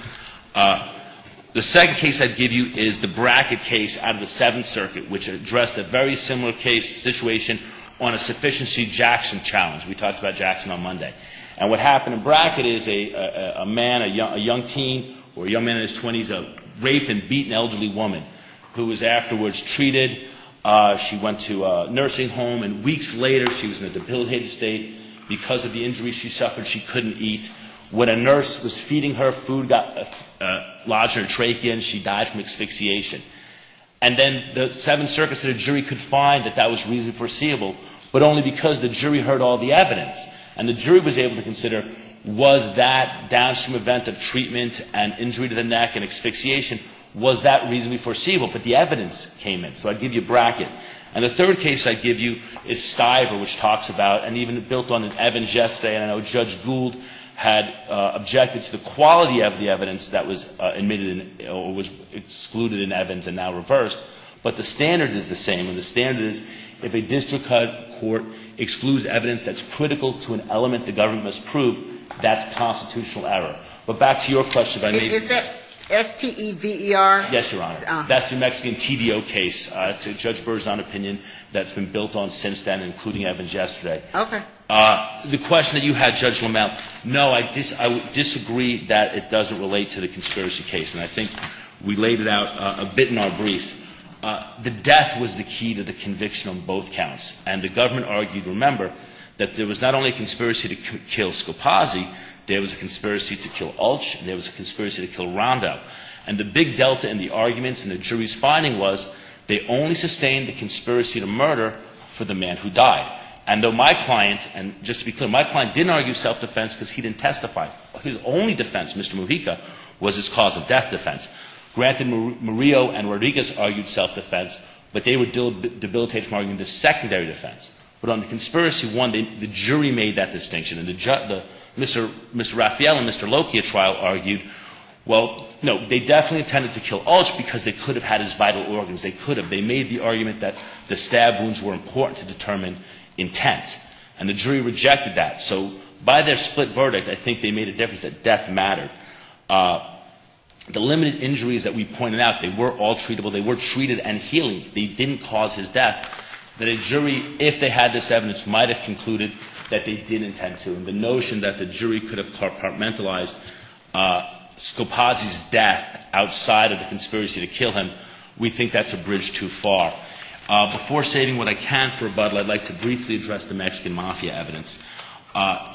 The second case I'd give you is the Brackett case out of the Seventh Circuit, which addressed a very similar case situation on a sufficiency Jackson challenge. We talked about Jackson on Monday. And what happened in Brackett is a man, a young teen, or a young man in his 20s, a raped and beaten elderly woman who was afterwards treated. She went to a nursing home, and weeks later, she was in a debilitated state. Because of the injury she suffered, she couldn't eat. When a nurse was feeding her, food lodged her trachea, and she died from asphyxiation. And then the Seventh Circuit said a jury could find that that was reasonably foreseeable, but only because the jury heard all the evidence. And the jury was able to consider, was that downstream event of treatment and injury to the neck and asphyxiation, was that reasonably foreseeable? But the evidence came in. So I'd give you Brackett. And the third case I'd give you is Stiver, which talks about, and even built on an Evans-Jeff say, and I know Judge Gould had objected to the quality of the evidence that was emitted or was excluded in Evans and now reversed. But the standard is the same, and the standard is, if a district court excludes evidence that's critical to an element the government has proved, that's constitutional error. But back to your question. Is that S-T-E-V-E-R? Yes, Your Honor. That's the Mexican TDO case. That's Judge Burr's own opinion that's been built on since then, including Evans-Jeff's. Okay. The question that you had, Judge Lamont, no, I disagree that it doesn't relate to the conspiracy case, and I think we laid it out a bit in our brief. The death was the key to the conviction on both counts, and the government argued, remember, that there was not only a conspiracy to kill Scopazzi, there was a conspiracy to kill Altsch, there was a conspiracy to kill Rondo. And the big delta in the arguments and the jury's finding was they only sustained the conspiracy to murder for the man who died. And though my client, and just to be clear, my client didn't argue self-defense because he didn't testify. His only defense, Mr. Rodriguez, was his cause of death defense. Granted, Murillo and Rodriguez argued self-defense, but they would debilitate to argue the secondary defense. But on the conspiracy one, the jury made that distinction, and Mr. Rafael and Mr. Lokia's trial argued, well, no, they definitely intended to kill Altsch because they could have had his vital organs. They could have. They made the argument that the stab wounds were important to determine intent, and the jury rejected that. So by their split verdict, I think they made a difference, that death mattered. The limited injuries that we pointed out, they were all treatable. They were treated and healed. They didn't cause his death. But a jury, if they had this evidence, might have concluded that they didn't intend to. The notion that the jury could have compartmentalized Scopazzi's death outside of the conspiracy to kill him, we think that's a bridge too far. Before saving what I can for a butler, I'd like to briefly address the Mexican mafia evidence.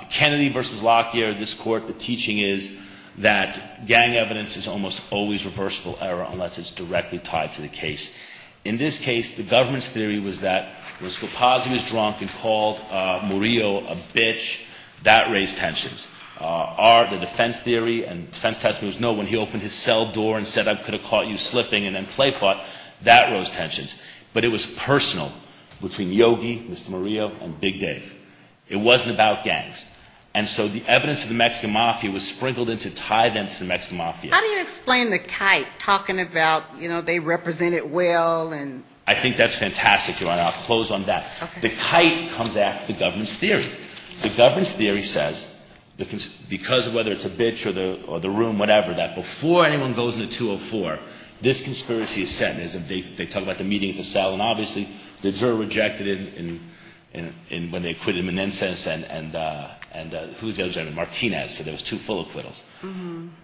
Kennedy versus Lokia, this court, the teaching is that gang evidence is almost always reversible error unless it's directly tied to the case. In this case, the government's theory was that if Scopazzi was drunk and called Murillo a bitch, that raised tensions. Our defense theory, and the defense has to know, when he opened his cell door and said, I could have caught you slipping and then play fought, that rose tensions. But it was personal between Yogi, Mr. Murillo, and Big Dave. It wasn't about gangs. And so the evidence of the Mexican mafia was sprinkled in to tie them to the Mexican mafia. How do you explain the kite? Talking about, you know, they represented well and... I think that's fantastic. I'll close on that. The kite comes after the government's theory. The government's theory says, because of whether it's a bitch or the room, whatever, that before anyone goes into 204, this conspiracy is set. They talk about the meeting at the cell and obviously they were rejected when they acquitted Menendez and Martinez, so there was two full acquittals.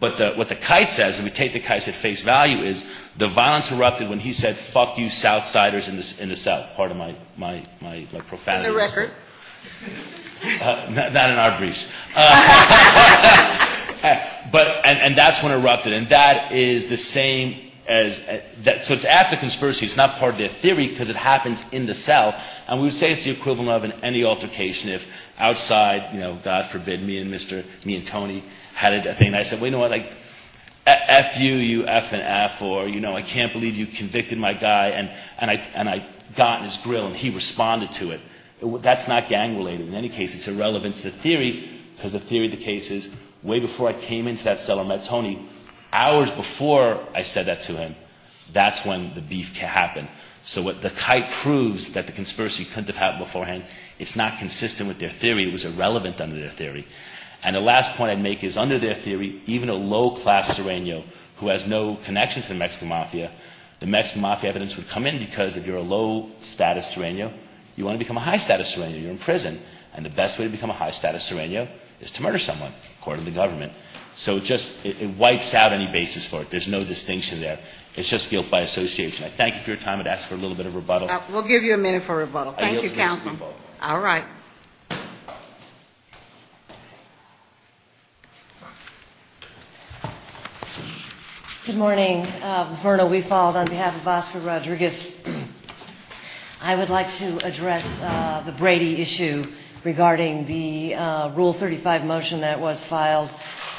But what the kite says, and we take the kite at face value, is the violence erupted when he said, fuck you Southsiders in the South. Part of my profanity. Is there a record? Not in our briefs. And that's when it erupted. And that is the same as... So it's after conspiracy. It's not part of their theory because it happened in the cell. And we would say it's the equivalent of any altercation. If outside, you know, God forbid me and Tony had a... And I said, wait a minute, like, F-U-U-F-N-F, or, you know, I can't believe you convicted my guy, and I got on his grill and he responded to it. That's not gang-related. In any case, it's irrelevant to the theory because the theory of the case is, way before I came into that cell and met Tony, hours before I said that to him, that's when the beef can happen. So the type proves that the conspiracy couldn't have happened beforehand. It's not consistent with their theory. It was irrelevant under their theory. And the last point I'd make is, under their theory, even a low-class serenio who has no connection to the Mexican Mafia, the Mexican Mafia evidence would come in because if you're a low-status serenio, you want to become a high-status serenio. You're in prison. And the best way to become a high-status serenio is to murder someone, according to government. So just, it wipes out any basis for it. There's no distinction there. It's just guilt by association. I thank you for your time. I'd ask for a little bit of rebuttal. We'll give you a minute for rebuttal. Thank you, counsel. All right. Good morning. Bernal, we followed on behalf of Oscar Rodriguez. I would like to address the Brady issue regarding the Rule 35 motion that was filed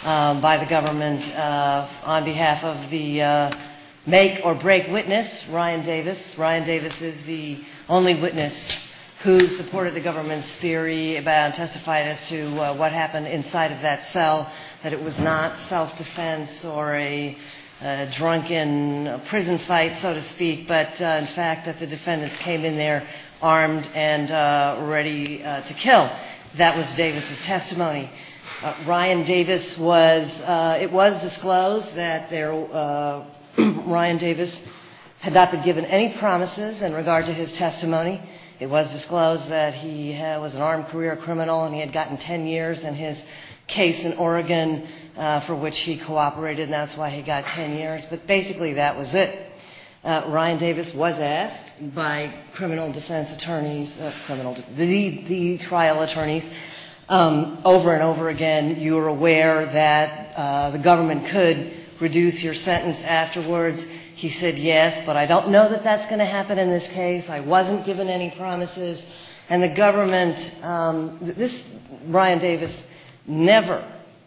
by the government on behalf of the make-or-break witness, Ryan Davis. Ryan Davis is the only witness who supported the government's theory and testified as to what happened inside of that cell, that it was not self-defense or a drunken prison site, so to speak, but, in fact, that the defendants came in there armed and ready to kill. That was Davis's testimony. It was disclosed that Ryan Davis had not been given any promises in regard to his testimony. It was disclosed that he was an armed career criminal and he had gotten 10 years in his case in Oregon, for which he cooperated, and that's why he got 10 years. But, basically, that was it. Ryan Davis was asked by criminal defense attorneys, the trial attorneys, over and over again, you were aware that the government could reduce your sentence afterwards. He said, yes, but I don't know that that's going to happen in this case. I wasn't given any promises. And the government, this, Ryan Davis never,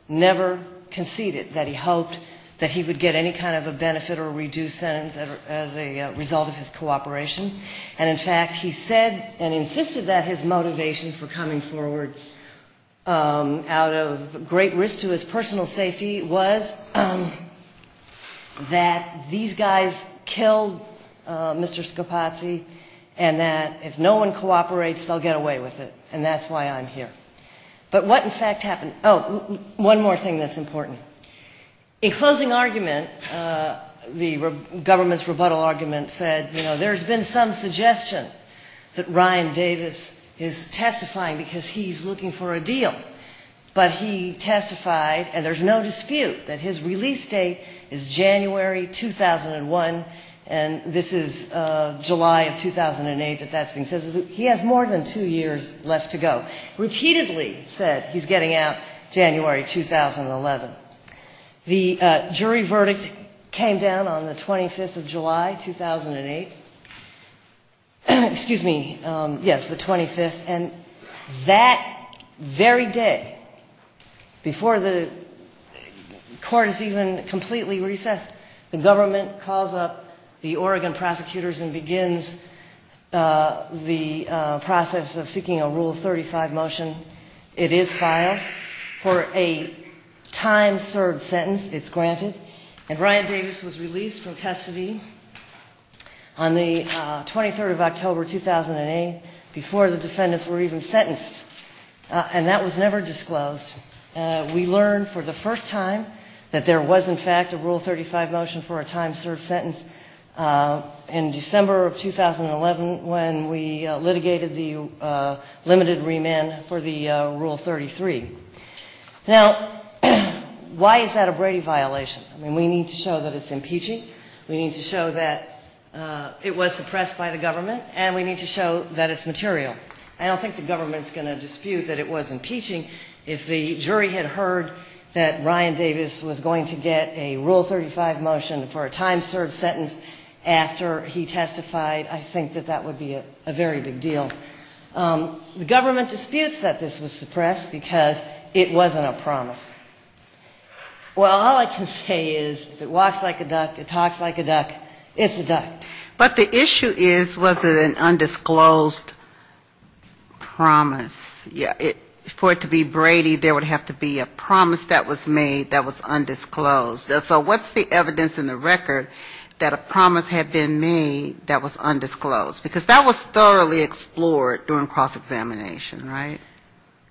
never conceded that he hoped that he would get any kind of a benefit or reduced sentence as a result of his cooperation. And, in fact, he said and insisted that his motivation for coming forward out of great risk to his personal safety was that these guys killed Mr. Scapazzi and that if no one cooperates, they'll get away with it, and that's why I'm here. But what, in fact, happened, oh, one more thing that's important. In closing argument, the government's rebuttal argument said, you know, there's been some suggestion that Ryan Davis is testifying because he's looking for a deal. But he testified, and there's no dispute, that his release date is January 2001, and this is July 2008 that that's been said. He has more than two years left to go. Repeatedly said he's getting out January 2011. The jury verdict came down on the 25th of July 2008. Excuse me, yes, the 25th, and that very day, before the court is even completely recessed, the government calls up the Oregon prosecutors and begins the process of seeking a Rule 35 motion. It is filed for a time-served sentence, it's granted, and Ryan Davis was released from custody on the 23rd of October 2008 before the defendants were even sentenced, and that was never disclosed. We learned for the first time that there was, in fact, a Rule 35 motion for a time-served sentence in December of 2011 when we litigated the limited remand for the Rule 33. Now, why is that a Brady violation? I mean, we need to show that it's impeaching. We need to show that it was suppressed by the government, and we need to show that it's material. I don't think the government's going to dispute that it was impeaching. If the jury had heard that Ryan Davis was going to get a Rule 35 motion for a time-served sentence after he testified, I think that that would be a very big deal. The government disputes that this was suppressed because it wasn't a promise. Well, all I can say is it walks like a duck, it talks like a duck, it's a duck. But the issue is, was it an undisclosed promise? For it to be Brady, there would have to be a promise that was made that was undisclosed. So what's the evidence in the record that a promise had been made that was undisclosed? Because that was thoroughly explored during cross-examination, right?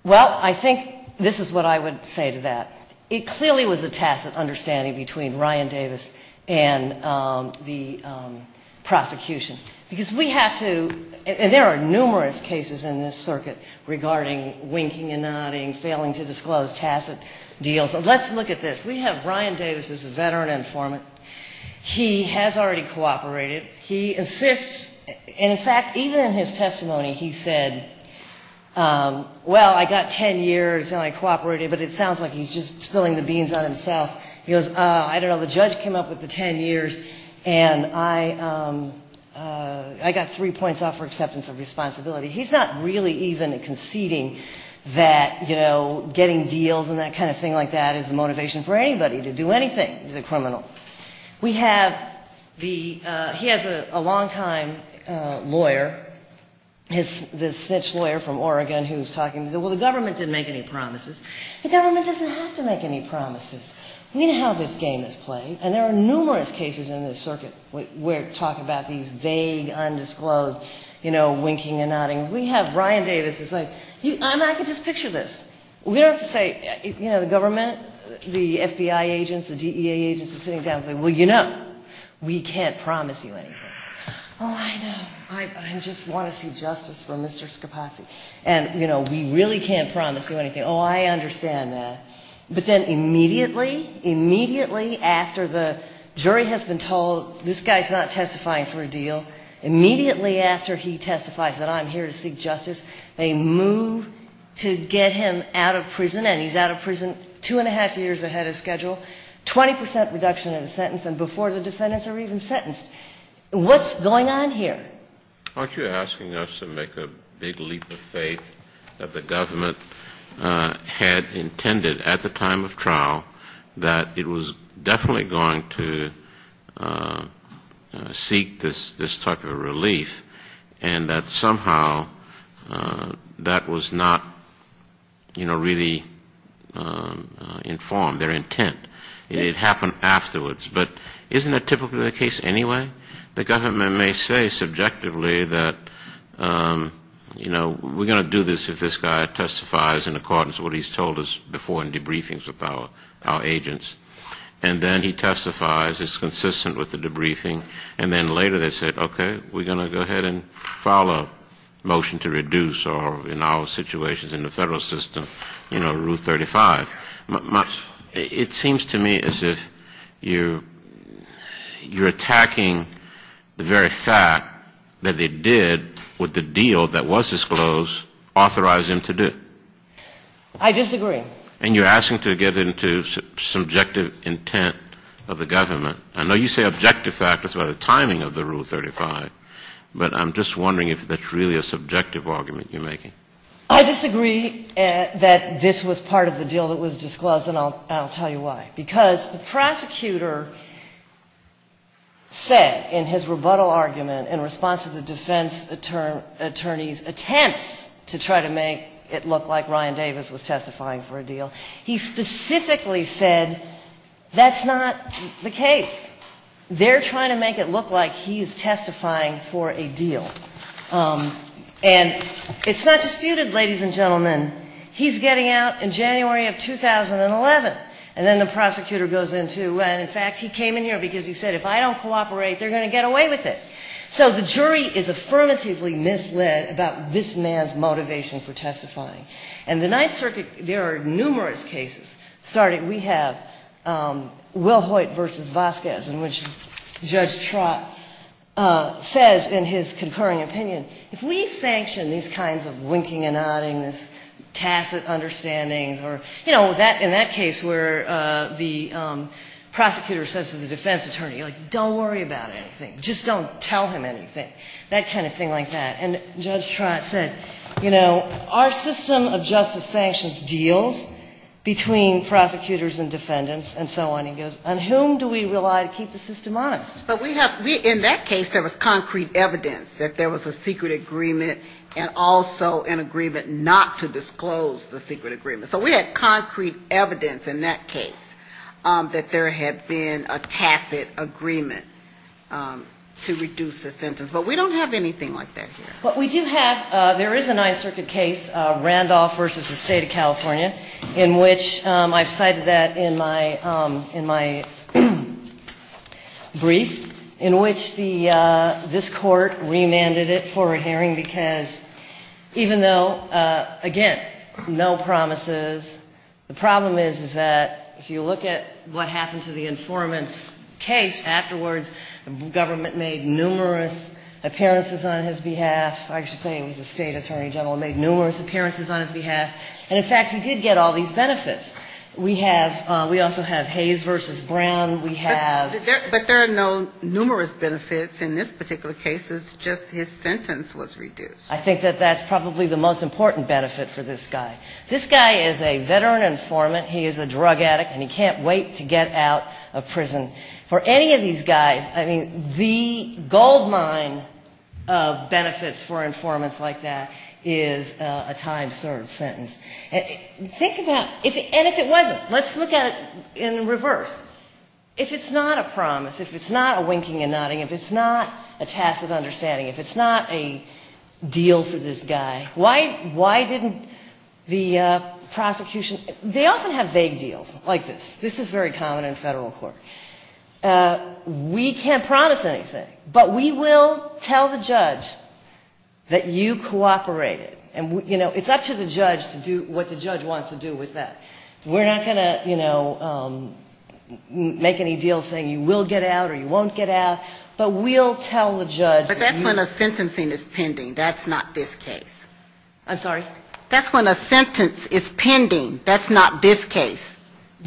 Well, I think this is what I would say to that. It clearly was a tacit understanding between Ryan Davis and the prosecution. Because we have to – and there are numerous cases in this circuit regarding winking and nodding, failing to disclose, tacit deals. But let's look at this. We have Ryan Davis as a veteran informant. He has already cooperated. He assists – and in fact, even in his testimony, he said, well, I got 10 years and I cooperated, but it sounds like he's just spilling the beans on himself. He goes, I don't know, the judge came up with the 10 years, and I got three points off for acceptance of responsibility. He's not really even conceding that, you know, getting deals and that kind of thing like that is a motivation for anybody to do anything. He's a criminal. We have the – he has a long-time lawyer, the snitch lawyer from Oregon, who's talking – well, the government didn't make any promises. The government doesn't have to make any promises. We need to have this game in play. And there are numerous cases in this circuit where we're talking about these vague, undisclosed, you know, winking and nodding. We have Ryan Davis who's like, I mean, I can just picture this. We don't have to say, you know, the government, the FBI agents, the DEA agents are sitting down and saying, well, you know, we can't promise you anything. Oh, I know, but I just want to see justice for Mr. Scapacci. And, you know, we really can't promise you anything. Oh, I understand that. But then immediately, immediately after the jury has been told, well, this guy's not testifying for a deal, immediately after he testifies that I'm here to seek justice, they move to get him out of prison, and he's out of prison two and a half years ahead of schedule, 20 percent reduction of the sentence, and before the defendants are even sentenced. What's going on here? Aren't you asking us to make a big leap of faith that the government had intended at the time of trial that it was definitely going to seek this type of relief and that somehow that was not, you know, really informed their intent? It happened afterwards. But isn't that typically the case anyway? The government may say subjectively that, you know, we're going to do this if this guy testifies in accordance with what he's told us before in debriefings with our agents. And then he testifies, is consistent with the debriefing, and then later they say, okay, we're going to go ahead and file a motion to reduce, or in our situation in the federal system, you know, Rule 35. It seems to me as if you're attacking the very fact that it did, with the deal that was disclosed, authorize him to do it. I disagree. And you're asking to get into subjective intent of the government. I know you say objective fact. It's about the timing of the Rule 35, but I'm just wondering if that's really a subjective argument you're making. I disagree that this was part of the deal that was disclosed, and I'll tell you why. Because the prosecutor said in his rebuttal argument in response to the defense attorney's attempt to try to make it look like Ryan Davis was testifying for a deal, he specifically said that's not the case. They're trying to make it look like he is testifying for a deal. And it's not disputed, ladies and gentlemen, he's getting out in January of 2011, and then the prosecutor goes into, and in fact he came in here because he said if I don't cooperate, they're going to get away with it. So the jury is affirmatively misled about this man's motivation for testifying. And the Ninth Circuit, there are numerous cases. We have Will Hoyt v. Vasquez, in which Judge Trott says in his concurring opinion, if we sanction these kinds of winking and nodding, this tacit understanding, or in that case where the prosecutor says to the defense attorney, don't worry about anything. Just don't tell him anything. That kind of thing like that. And Judge Trott said, you know, our system of justice sanctions deals between prosecutors and defendants and so on. And he goes, on whom do we rely to keep the system honest? But we have, in that case there was concrete evidence that there was a secret agreement and also an agreement not to disclose the secret agreement. So we had concrete evidence in that case that there had been a tacit agreement to reduce the sentence. But we don't have anything like that here. But we do have, there is a Ninth Circuit case, Randolph v. the State of California, in which I cited that in my brief, in which this court remanded it for a hearing because, even though, again, no promises, the problem is that if you look at what happened to the informant's case afterwards, the government made numerous appearances on his behalf. I should say it was the state attorney general made numerous appearances on his behalf. And, in fact, you did get all these benefits. We have, we also have Hayes v. Brown. We have. But there are no numerous benefits in this particular case. It's just his sentence was reduced. I think that that's probably the most important benefit for this guy. This guy is a veteran informant. He is a drug addict. And he can't wait to get out of prison. For any of these guys, I mean, the goldmine of benefits for informants like that is a time-served sentence. Think about, and if it wasn't, let's look at it in reverse. If it's not a promise, if it's not a winking and nodding, if it's not a tacit understanding, if it's not a deal to this guy, why didn't the prosecution, they often have vague deals like this. This is very common in federal court. We can't promise anything. But we will tell the judge that you cooperated. And, you know, it's up to the judge to do what the judge wants to do with that. We're not going to, you know, make any deals saying you will get out or you won't get out. But we'll tell the judge. But that's when a sentencing is pending. That's not this case. I'm sorry? That's when a sentence is pending. That's not this case.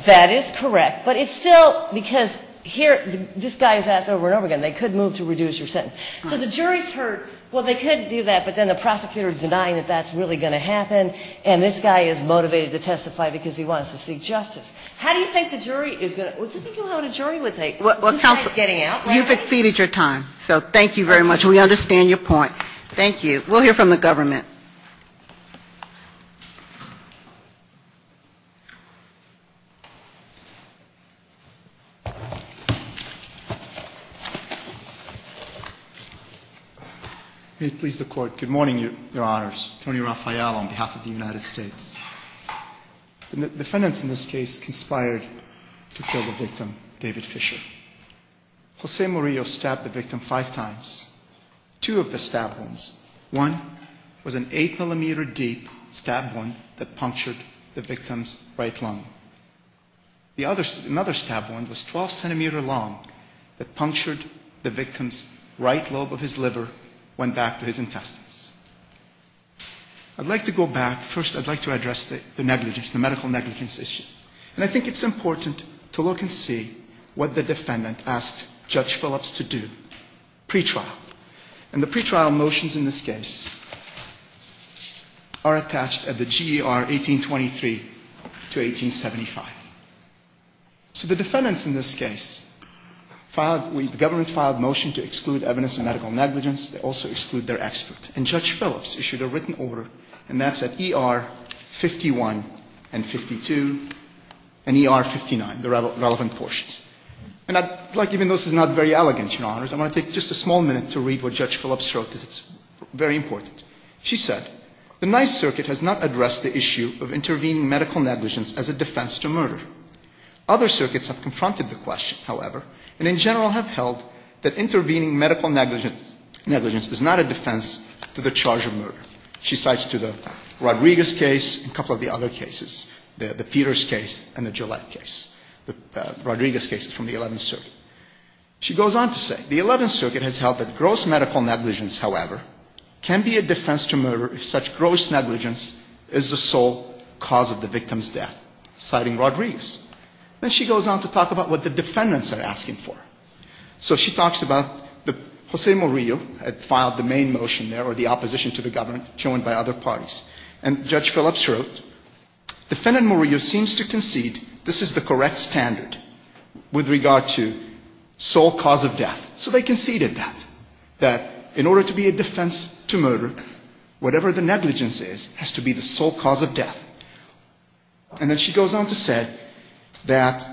That is correct. But it's still, because here, this guy is asked over and over again. They could move to reduce your sentence. So the jury's heard, well, they could do that, but then the prosecutor is denying that that's really going to happen, and this guy is motivated to testify because he wants to seek justice. How do you think the jury is going to, what do you think a jury would say? Well, you've exceeded your time. So thank you very much. We understand your point. Thank you. We'll hear from the government. Please be seated. May it please the Court, good morning, Your Honors. Tony Raphael on behalf of the United States. The defendants in this case conspired to kill the victim, David Fisher. Jose Murillo stabbed the victim five times. Two of the stabbed ones. One was an eight-millimeter-deep stab wound that punctured the victim's right lung. Another stab wound was 12 centimeters long that punctured the victim's right lobe of his liver, went back to his intestines. I'd like to go back. First, I'd like to address the negligence, the medical negligence issue. And I think it's important to look and see what the defendant asked Judge Phillips to do, pretrial. And the pretrial motions in this case are attached at the GER 1823 to 1875. So the defendants in this case filed, the government filed a motion to exclude evidence of medical negligence. They also exclude their expert. And Judge Phillips issued a written order, and that's at ER 51 and 52 and ER 59, the relevant portions. And I'd like, even though this is not very elegant, Your Honors, I want to take just a small minute to read what Judge Phillips wrote, because it's very important. She said, the Ninth Circuit has not addressed the issue of intervening medical negligence as a defense to murder. Other circuits have confronted the question, however, and in general have held that intervening medical negligence is not a defense to the charge of murder. She cites to the Rodriguez case and a couple of the other cases, the Peters case and the Gillette case. Rodriguez case is from the Eleventh Circuit. She goes on to say, the Eleventh Circuit has held that gross medical negligence, however, can be a defense to murder if such gross negligence is the sole cause of the victim's death, citing Rodriguez. And she goes on to talk about what the defendants are asking for. So she talks about Jose Murillo had filed the main motion there or the opposition to the government shown by other parties. And Judge Phillips wrote, defendant Murillo seems to concede this is the correct standard with regard to sole cause of death. So they conceded that, that in order to be a defense to murder, whatever the negligence is, has to be the sole cause of death. And then she goes on to say that,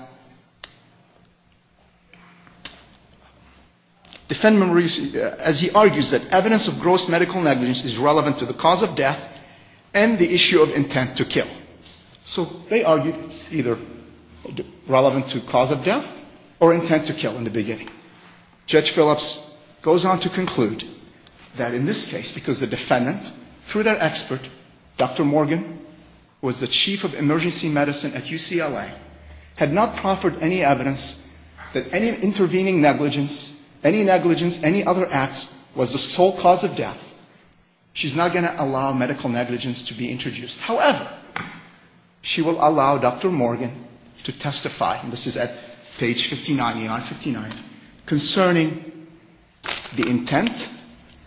defendant Murillo, as he argues, that evidence of gross medical negligence is relevant to the cause of death and the issue of intent to kill. So they argue it's either relevant to cause of death or intent to kill in the beginning. Judge Phillips goes on to conclude that in this case, because the defendant, through their expert, Dr. Morgan, who was the Chief of Emergency Medicine at UCLA, had not proffered any evidence that any intervening negligence, any negligence, any other acts, was the sole cause of death. She's not going to allow medical negligence to be introduced. However, she will allow Dr. Morgan to testify, and this is at page 59, line 59, concerning the intent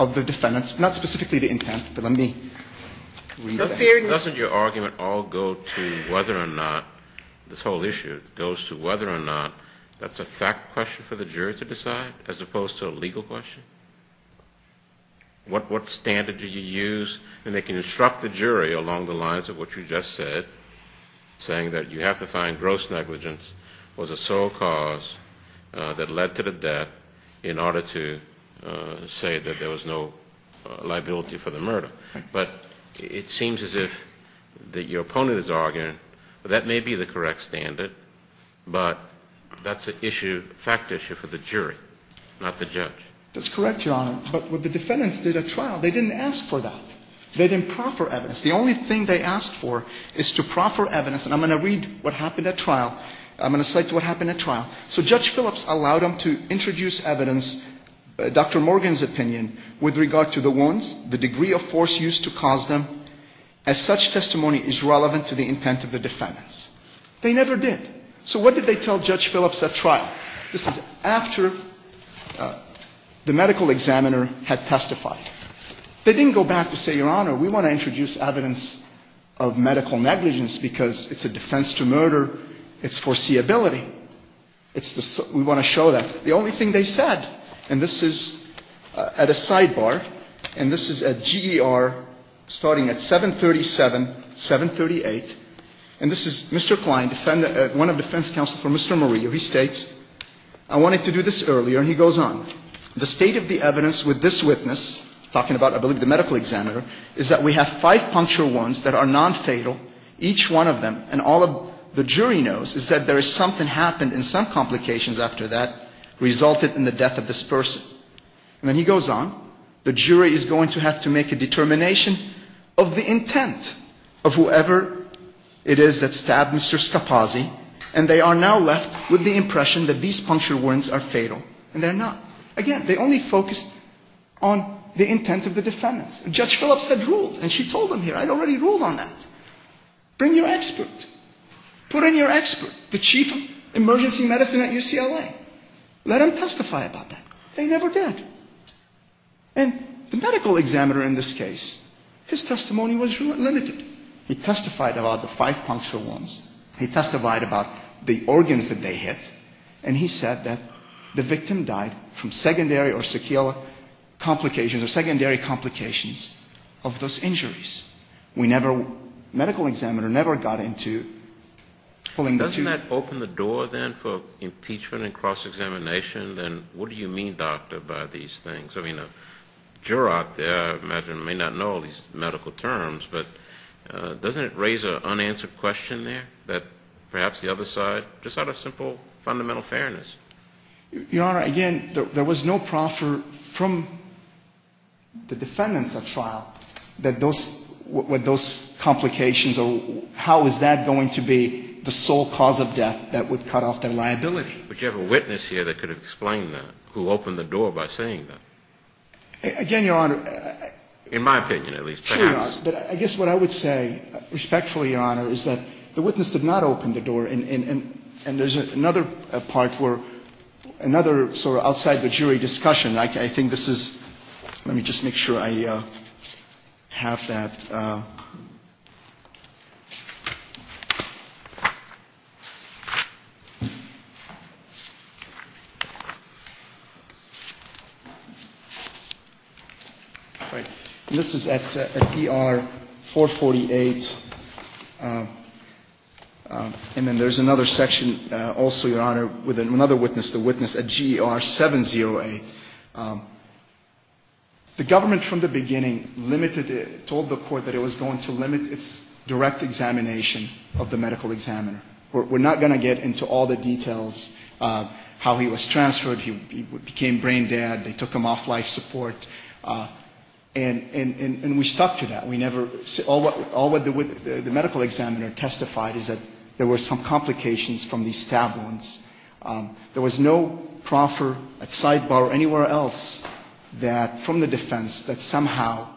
of the defendant, not specifically the intent, but let me read that. Doesn't your argument all go to whether or not, this whole issue goes to whether or not that's a fact question for the jury to decide as opposed to a legal question? What standard did you use? And they can instruct the jury along the lines of what you just said, saying that you have to find gross negligence was a sole cause that led to the death in order to say that there was no liability for the murder. But it seems as if your opponent is arguing that that may be the correct standard, but that's a fact issue for the jury, not the judge. That's correct, Your Honor. But when the defendants did a trial, they didn't ask for that. They didn't proffer evidence. The only thing they asked for is to proffer evidence, and I'm going to read what happened at trial. I'm going to cite what happened at trial. So Judge Phillips allowed them to introduce evidence, Dr. Morgan's opinion, with regard to the wounds, the degree of force used to cause them, as such testimony is relevant to the intent of the defendants. So what did they tell Judge Phillips at trial? This is after the medical examiner had testified. They didn't go back to say, Your Honor, we want to introduce evidence of medical negligence because it's a defense to murder. It's foreseeability. We want to show that. The only thing they said, and this is at a sidebar, and this is at GER, starting at 737, 738, and this is Mr. Klein, one of the defense counsels for Mr. Murillo. He states, I wanted to do this earlier, and he goes on. The state of the evidence with this witness, talking about, I believe, the medical examiner, is that we have five puncture wounds that are nonfatal. Each one of them, and all of the jury knows, is that there is something happened and some complications after that resulted in the death of this person. And then he goes on. The jury is going to have to make a determination of the intent of whoever it is that stabbed Mr. Scapazzi, and they are now left with the impression that these puncture wounds are fatal, and they're not. Again, they only focused on the intent of the defendants. Judge Phillips had ruled, and she told them here, I'd already ruled on that. Bring your expert. Put in your expert, the chief of emergency medicine at UCLA. Let him testify about that. They never did. And the medical examiner in this case, his testimony was limited. He testified about the five puncture wounds. He testified about the organs that they hit. And he said that the victim died from secondary or secular complications, or secondary complications of those injuries. We never, the medical examiner never got into fully... Didn't that open the door then for impeachment and cross-examination? And what do you mean, doctor, by these things? I mean, a juror out there, I imagine, may not know these medical terms, but doesn't it raise an unanswered question there that perhaps the other side, just out of simple fundamental fairness? Your Honor, again, there was no proffer from the defendants that filed with those complications. How is that going to be the sole cause of death that would cut off their liability? But you have a witness here that could explain that, who opened the door by saying that. Again, Your Honor... In my opinion, at least, perhaps. I guess what I would say, respectfully, Your Honor, is that the witness did not open the door. And there's another part for another sort of outside the jury discussion. I think this is... Let me just make sure I have that. This is at PR-448, and then there's another section, also, Your Honor, with another witness, the witness at GR-70A. The government, from the beginning, told the court that it was going to limit its direct examination of the medical examiner. We're not going to get into all the details of how he was transferred. He became brain-dead. They took him off life support. And we stuck to that. All that the medical examiner testified is that there were some complications from these stab wounds. There was no proffer, a sidebar, anywhere else from the defense that somehow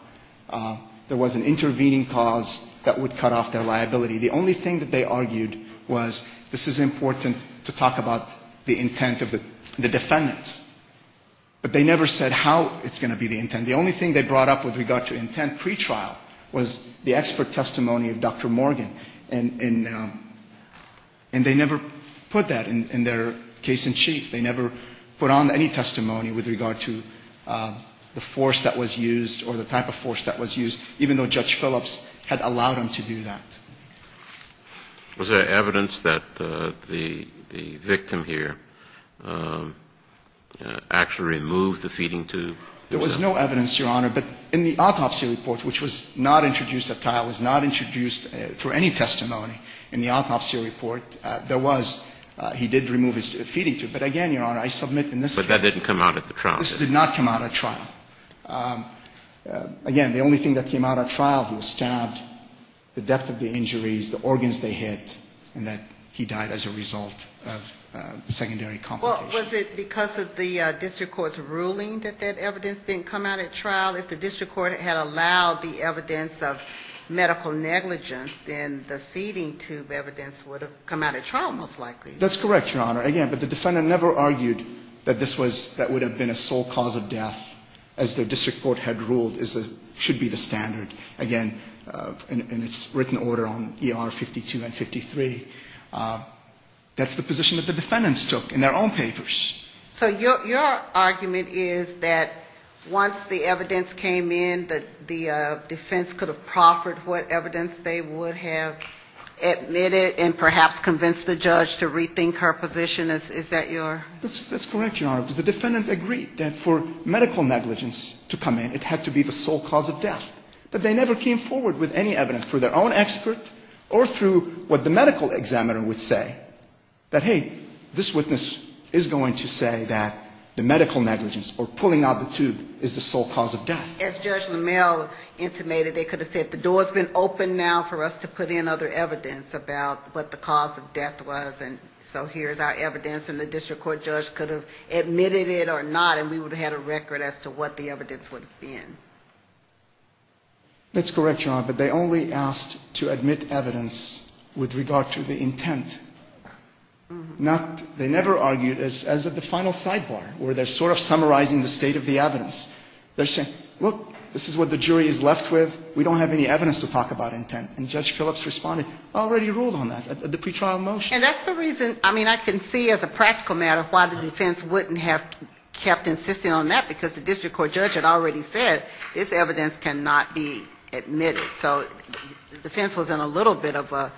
there was an intervening cause that would cut off their liability. The only thing that they argued was this is important to talk about the intent of the defendant. But they never said how it's going to be the intent. The only thing they brought up with regard to intent pretrial was the expert testimony of Dr. Morgan. And they never put that in their case in chief. They never put on any testimony with regard to the force that was used or the type of force that was used, even though Judge Phillips had allowed him to do that. Was there evidence that the victim here actually removed the feeding tube? No, Your Honor. But in the autopsy report, which was not introduced at trial, was not introduced for any testimony in the autopsy report, there was. He did remove his feeding tube. But again, Your Honor, I submit in this case. But that didn't come out at the trial. This did not come out at trial. Again, the only thing that came out at trial was stabbed, the depth of the injuries, the organs they hit, and that he died as a result of secondary complications. Well, was it because of the district court's ruling that that evidence didn't come out at trial? If the district court had allowed the evidence of medical negligence, then the feeding tube evidence would have come out at trial, most likely. That's correct, Your Honor. Again, but the defendant never argued that this was, that would have been a sole cause of death, as the district court had ruled should be the standard. Again, in its written order on ER 52 and 53, that's the position that the defendants took in their own papers. So your argument is that once the evidence came in, the defense could have proffered what evidence they would have admitted and perhaps convinced the judge to rethink her position? Is that your? That's correct, Your Honor. The defendant agreed that for medical negligence to come in, it had to be the sole cause of death. But they never came forward with any evidence through their own experts or through what the medical examiner would say, that, hey, this witness is going to say that the medical negligence or pulling out the tube is the sole cause of death. As Judge LaMalle intimated, they could have said, the door's been opened now for us to put in other evidence about what the cause of death was, and so here's our evidence. And the district court judge could have admitted it or not, and we would have had a record as to what the evidence would have been. That's correct, Your Honor. But they only asked to admit evidence with regard to the intent. They never argued as at the final sidebar, where they're sort of summarizing the state of the evidence. They're saying, look, this is what the jury is left with. We don't have any evidence to talk about intent. And Judge Phillips responded, I already ruled on that at the pretrial motion. And that's the reason, I mean, I can see as a practical matter why the defense wouldn't have kept insisting on that, because the district court judge had already said, this evidence cannot be admitted. So the defense was in a little bit of a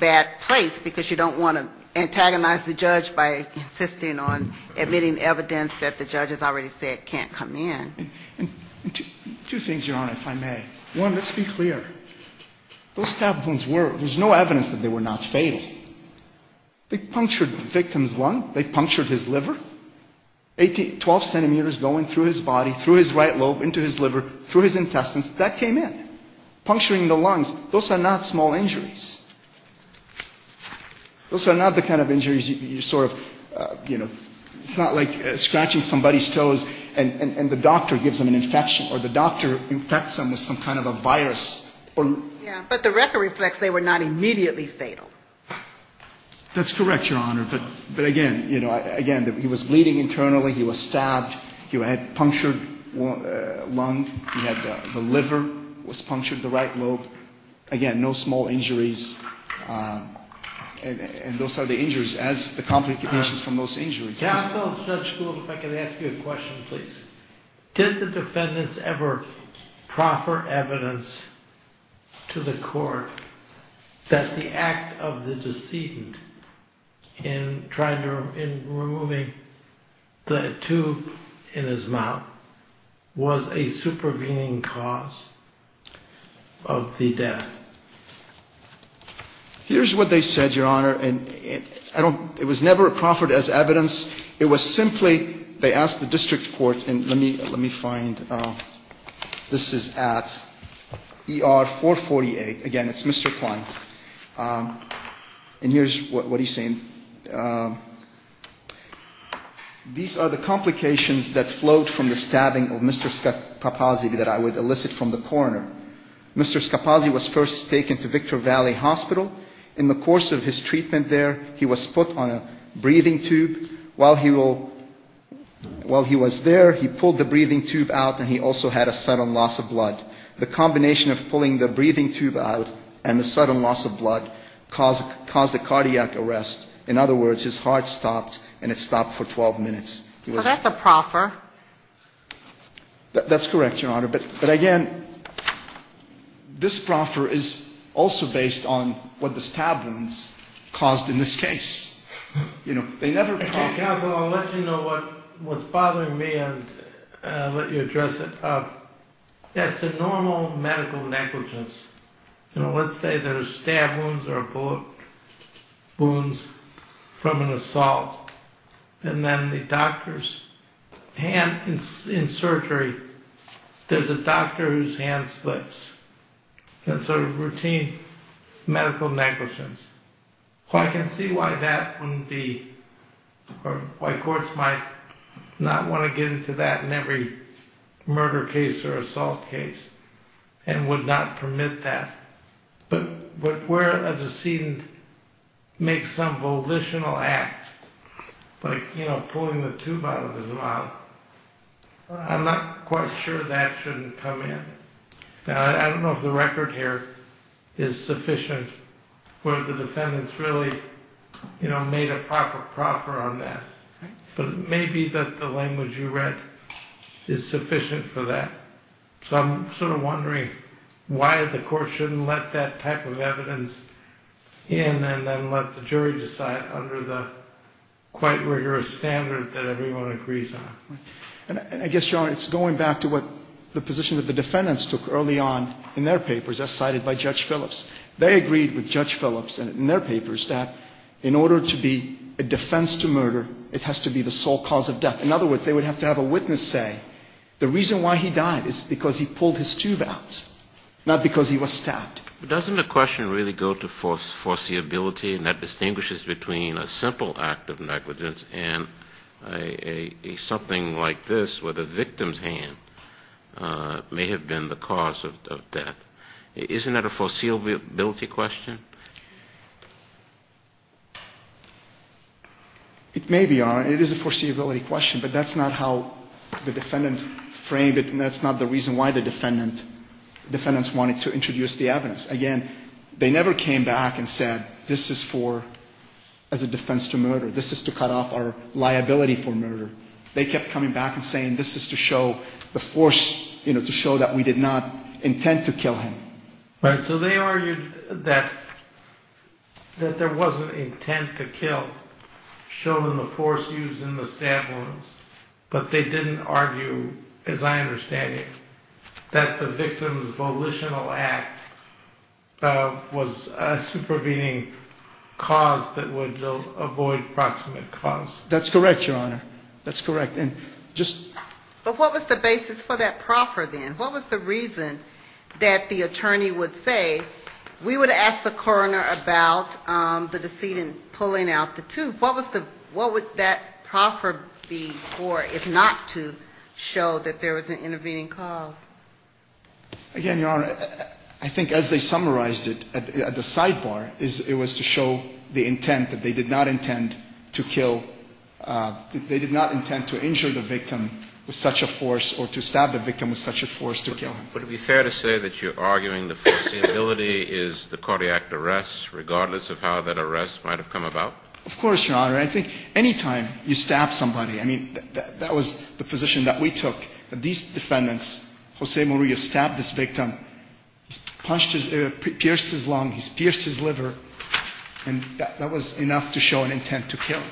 bad place, because you don't want to antagonize the judge by insisting on admitting evidence that the judge has already said can't come in. Two things, Your Honor, if I may. One, let's be clear. Those stab wounds were, there's no evidence that they were not fatal. They punctured the victim's lung, they punctured his liver. Twelve centimeters going through his body, through his right lobe, into his liver, through his intestines, that came in. Puncturing the lungs, those are not small injuries. Those are not the kind of injuries you sort of, you know, it's not like scratching somebody's toes and the doctor gives them an infection, or the doctor infects them with some kind of a virus. But the record reflects they were not immediately fatal. That's correct, Your Honor. But again, you know, again, he was bleeding internally, he was stabbed, he had a punctured lung, he had the liver was punctured, the right lobe. Again, no small injuries. And those are the injuries as the complications from those injuries. If I can ask you a question, please. Did the defendants ever proffer evidence to the court that the act of the decedent in removing the tube in his mouth was a supervening cause of the death? Here's what they said, Your Honor, and it was never proffered as evidence. It was simply, they asked the district court, and let me find, this is at ER 448. Again, it's Mr. Klein. And here's what he's saying. These are the complications that flowed from the stabbing of Mr. Scapazzi that I would elicit from the coroner. Mr. Scapazzi was first taken to Victor Valley Hospital. In the course of his treatment there, he was put on a breathing tube. While he was there, he pulled the breathing tube out, and he also had a sudden loss of blood. The combination of pulling the breathing tube out and the sudden loss of blood caused a cardiac arrest. In other words, his heart stopped, and it stopped for 12 minutes. So that's a proffer. That's correct, Your Honor, but again, this proffer is also based on what the stab wounds caused in this case. You know, they never- Yeah, but I'll let you know what's bothering me, and I'll let you address it. It's a normal medical negligence. You know, let's say there's stab wounds or bullet wounds from an assault, and then the doctor's hand is in surgery. There's a doctor whose hand splits. And so there's routine medical negligence. So I can see why that wouldn't be- or why courts might not want to get into that in every murder case or assault case and would not permit that. But where a decedent makes some volitional act, like, you know, pulling the tube out of his mouth, I'm not quite sure that shouldn't come in. I don't know if the record here is sufficient, whether the defendants really, you know, made a proper proffer on that. But maybe that the language you read is sufficient for that. So I'm sort of wondering why the court shouldn't let that type of evidence in and then let the jury decide under the quite rigorous standard that everyone agrees on. I guess, Your Honor, it's going back to what the position of the defendants took early on in their papers as cited by Judge Phillips. They agreed with Judge Phillips in their papers that in order to be a defense to murder, it has to be the sole cause of death. In other words, they would have to have a witness say the reason why he died is because he pulled his tube out, not because he was stabbed. Doesn't the question really go to foreseeability and that distinguishes between a simple act of negligence and something like this where the victim's hand may have been the cause of death? Isn't that a foreseeability question? It may be, Your Honor, and it is a foreseeability question, but that's not how the defendants framed it and that's not the reason why the defendants wanted to introduce the evidence. Again, they never came back and said this is for as a defense to murder. This is to cut off our liability for murder. They kept coming back and saying this is to show the force, to show that we did not intend to kill him. So they argued that there wasn't intent to kill, showing the force used in the stab wounds, but they didn't argue, as I understand it, that the victim's volitional act was a supervening cause that would avoid proximate cause. That's correct, Your Honor. That's correct. But what was the basis for that proffer then? What was the reason that the attorney would say we would ask the coroner about the decedent pulling out the tooth? What would that proffer be for if not to show that there was an intervening cause? Again, Your Honor, I think as they summarized it at the sidebar, it was to show the intent that they did not intend to injure the victim with such a force or to stab the victim with such a force to kill him. Would it be fair to say that you're arguing the possibility is the cardiac arrest, regardless of how that arrest might have come about? Of course, Your Honor. I think any time you stab somebody, I mean, that was the position that we took. These defendants, Jose Maria stabbed this victim, pierced his lung, pierced his liver, and that was enough to show an intent to kill.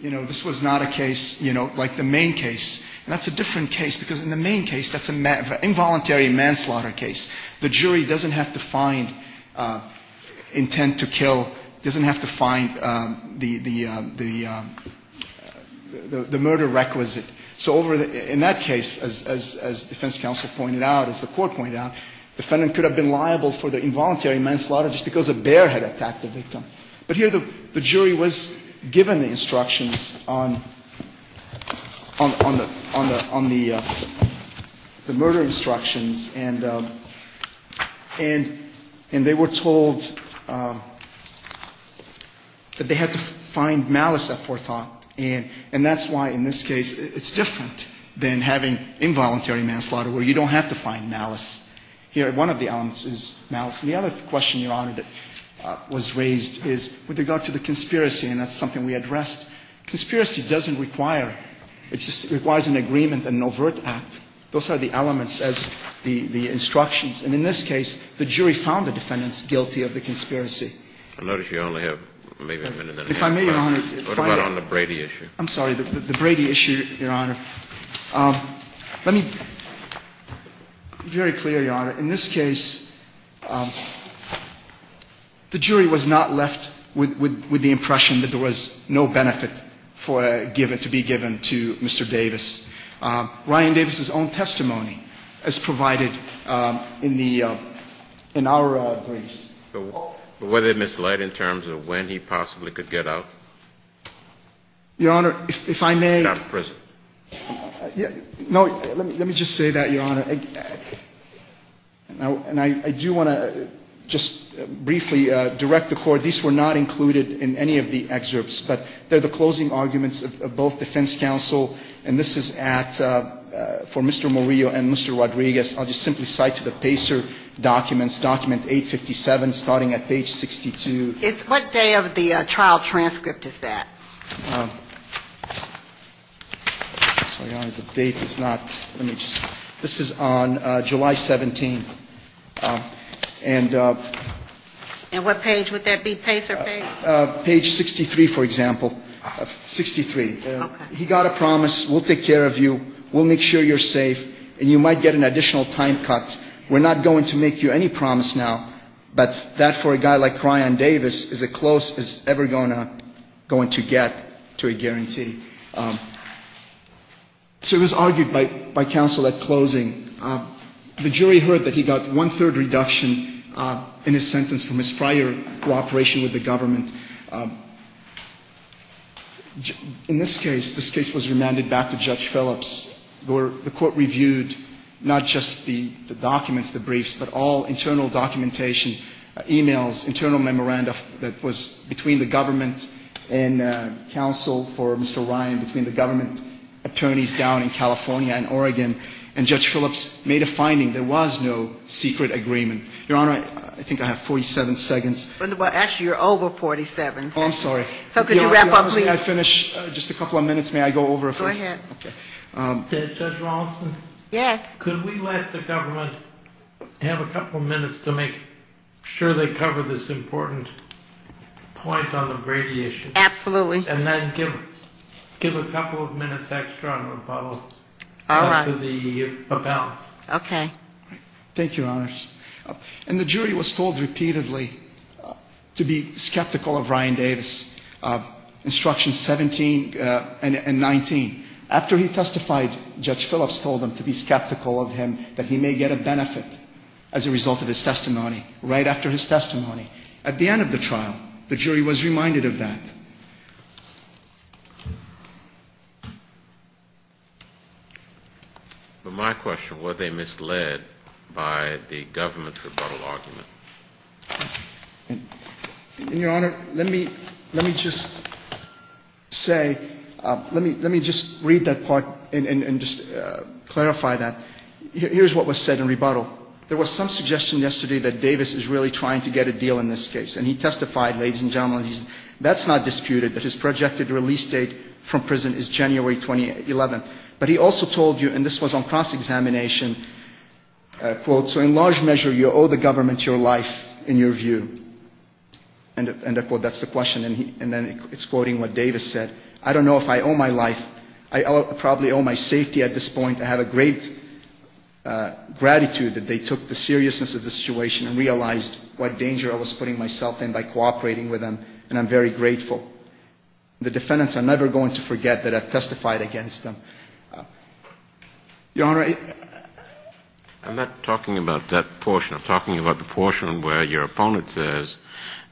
This was not a case like the main case. That's a different case because in the main case, that's an involuntary manslaughter case. The jury doesn't have to find intent to kill, doesn't have to find the murder requisite. So in that case, as defense counsel pointed out, as the court pointed out, the defendant could have been liable for the involuntary manslaughter just because a bear had attacked the victim. But here the jury was given instructions on the murder instructions, and they were told that they had to find malice up for thought. And that's why in this case, it's different than having involuntary manslaughter where you don't have to find malice. Here, one of the elements is malice. The other question, Your Honor, that was raised is with regard to the conspiracy, and that's something we addressed. Conspiracy doesn't require, it just requires an agreement and an overt act. Those are the elements as the instructions. And in this case, the jury found the defendants guilty of the conspiracy. I notice you only have maybe a minute and a half. If I may, Your Honor. What about on the Brady issue? I'm sorry, the Brady issue, Your Honor. Let me be very clear, Your Honor. In this case, the jury was not left with the impression that there was no benefit to be given to Mr. Davis. Ryan Davis's own testimony is provided in our briefs. But was it misled in terms of when he possibly could get out? Your Honor, if I may. No, let me just say that, Your Honor. And I do want to just briefly direct the Court. These were not included in any of the excerpts. But they're the closing arguments of both defense counsel. And this is for Mr. Murillo and Mr. Rodriguez. I'll just simply cite the Pacer documents, document 857, starting at page 62. What day of the trial transcript is that? Your Honor, the date is not, let me just, this is on July 17th. And what page would that be, Pacer page? Page 63, for example. 63. Okay. He got a promise, we'll take care of you, we'll make sure you're safe, and you might get an additional time cut. We're not going to make you any promise now. But that, for a guy like Cryon Davis, is as close as ever going to get to a guarantee. So it was argued by counsel at closing. The jury heard that he got one-third reduction in his sentence from his prior cooperation with the government. In this case, this case was remanded back to Judge Phillips, where the court reviewed not just the documents, the briefs, but all internal documentation, e-mails, internal memoranda that was between the government and counsel for Mr. Ryan, between the government attorneys down in California and Oregon. And Judge Phillips made a finding. There was no secret agreement. Your Honor, I think I have 47 seconds. Actually, you're over 47. I'm sorry. Could you wrap up, please? May I finish just a couple of minutes? May I go over a few? Go ahead. Judge Rosenthal? Yes. Could we let the government have a couple of minutes to make sure they cover this important point on abradiation? Absolutely. And then give a couple of minutes extra on the follow-up. After the about. Okay. Thank you, Your Honor. And the jury was told repeatedly to be skeptical of Ryan Davis. Instructions 17 and 19. After he testified, Judge Phillips told them to be skeptical of him, that he may get a benefit as a result of his testimony right after his testimony. At the end of the trial, the jury was reminded of that. But my question, were they misled by the government's rebuttal argument? Your Honor, let me just say, let me just read that part and just clarify that. Here's what was said in rebuttal. There was some suggestion yesterday that Davis is really trying to get a deal in this case. And he testified, ladies and gentlemen, that's not disputed. That his projected release date from prison is January 2011. But he also told you, and this was on cross-examination, quote, so in large measure you owe the government your life in your view. End of quote. That's the question. And then it's quoting what Davis said. I don't know if I owe my life. I probably owe my safety at this point. I have a great gratitude that they took the seriousness of the situation and realized what danger I was putting myself in by cooperating with them. And I'm very grateful. The defendants are never going to forget that I testified against them. Your Honor. I'm not talking about that portion. I'm talking about the portion where your opponent says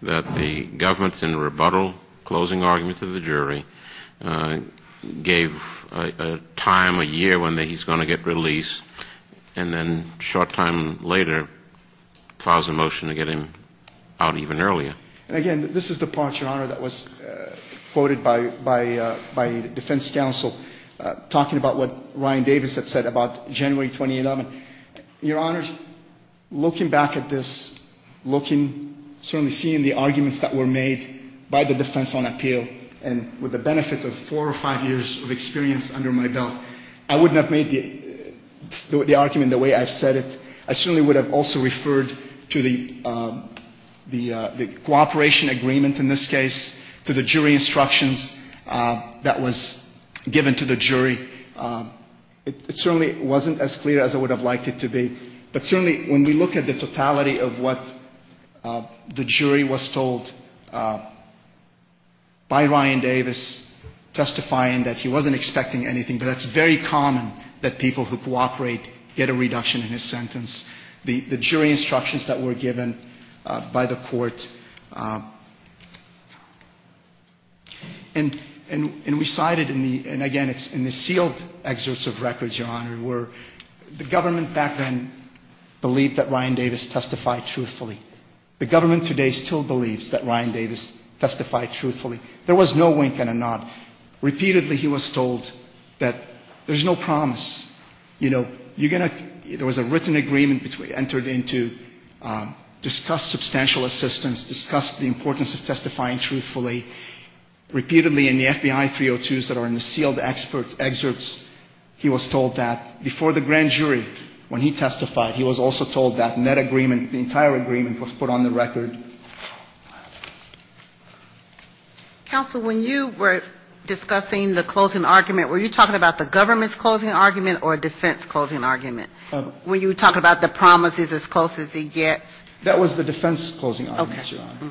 that the government, in the rebuttal closing argument of the jury, gave a time, a year, when he's going to get released. And then a short time later files a motion to get him out even earlier. Again, this is the portion, Your Honor, that was quoted by the defense counsel talking about what Ryan Davis had said about January 2011. Your Honors, looking back at this, certainly seeing the arguments that were made by the defense on appeal and with the benefit of four or five years of experience under my belt, I would not have made the argument the way I said it. I certainly would have also referred to the cooperation agreement in this case, to the jury instructions that was given to the jury. It certainly wasn't as clear as I would have liked it to be. But certainly when we look at the totality of what the jury was told by Ryan Davis, testifying that he wasn't expecting anything, but it's very common that people who cooperate get a reduction in his sentence. The jury instructions that were given by the court, and recited, and again, it's in the sealed excerpts of records, Your Honor, where the government back then believed that Ryan Davis testified truthfully. The government today still believes that Ryan Davis testified truthfully. There was no wink and a nod. Repeatedly he was told that there's no promise. There was a written agreement which we entered into, discuss substantial assistance, discuss the importance of testifying truthfully. Repeatedly in the FBI 302s that are in the sealed excerpts, he was told that before the grand jury, when he testified, he was also told that in that agreement, the entire agreement was put on the record. Counsel, when you were discussing the closing argument, were you talking about the government's closing argument or defense closing argument? Were you talking about the promises as close as he gets? That was the defense closing argument, Your Honor.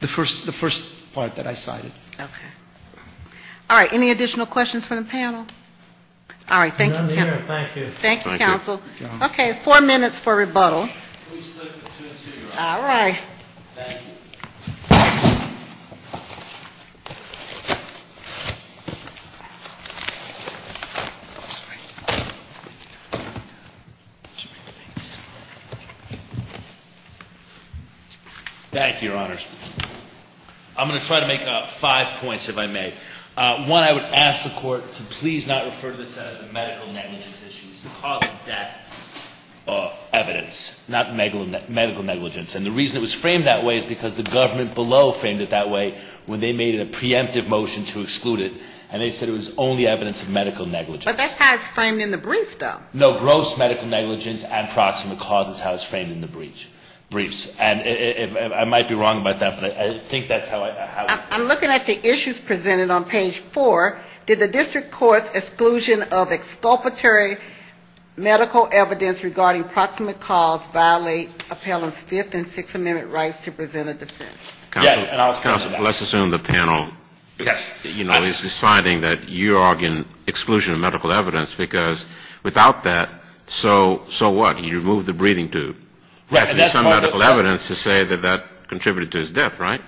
The first part that I cited. Okay. All right. Any additional questions from the panel? All right. Thank you, Counsel. None here. Thank you. Okay. Four minutes for rebuttal. All right. Thank you, Your Honor. I'm going to try to make five points, if I may. One, I would ask the Court to please not refer to this as a medical negligence issue. It's a cause of death evidence, not medical negligence. And the reason it was framed that way is because the government below framed it that way when they made a preemptive motion to exclude it, and they said it was only evidence of medical negligence. But that's how it's framed in the briefs, though. No, gross medical negligence and proximate cause is how it's framed in the briefs. I'm looking at the issues presented on page four. Did the district court's exclusion of exculpatory medical evidence regarding proximate cause violate appellant's Fifth and Sixth Amendment rights to present a defense? Counsel, let's assume the panel is deciding that you are arguing exclusion of medical evidence because without that, so what? You remove the breathing tube. There's some medical evidence to say that that contributed to his death, right?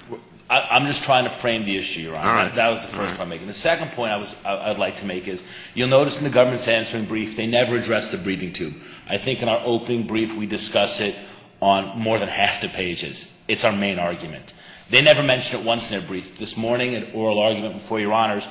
I'm just trying to frame the issue, Your Honor. That was the first point I'm making. The second point I'd like to make is you'll notice in the government's answer in brief they never address the breathing tube. I think in our open brief we discuss it on more than half the pages. It's our main argument. They never mention it once in their brief. This morning, an oral argument before Your Honor's,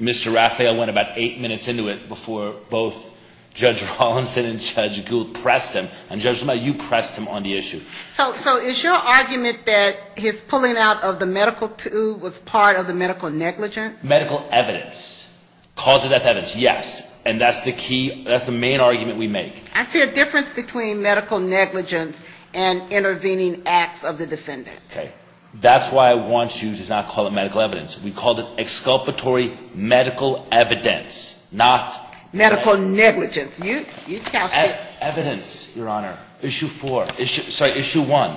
Mr. Raphael went about eight minutes into it before both Judge Rollinson and Judge Gould pressed him, and, Judge, you pressed him on the issue. So is your argument that his pulling out of the medical tube was part of the medical negligence? Medical evidence. Cause of death evidence, yes. And that's the key. That's the main argument we make. I see a difference between medical negligence and intervening acts of the defendant. Okay. That's why I want you to not call it medical evidence. We call it exculpatory medical evidence, not... Medical negligence. You sound sick. Evidence, Your Honor. Issue four. Sorry, issue one.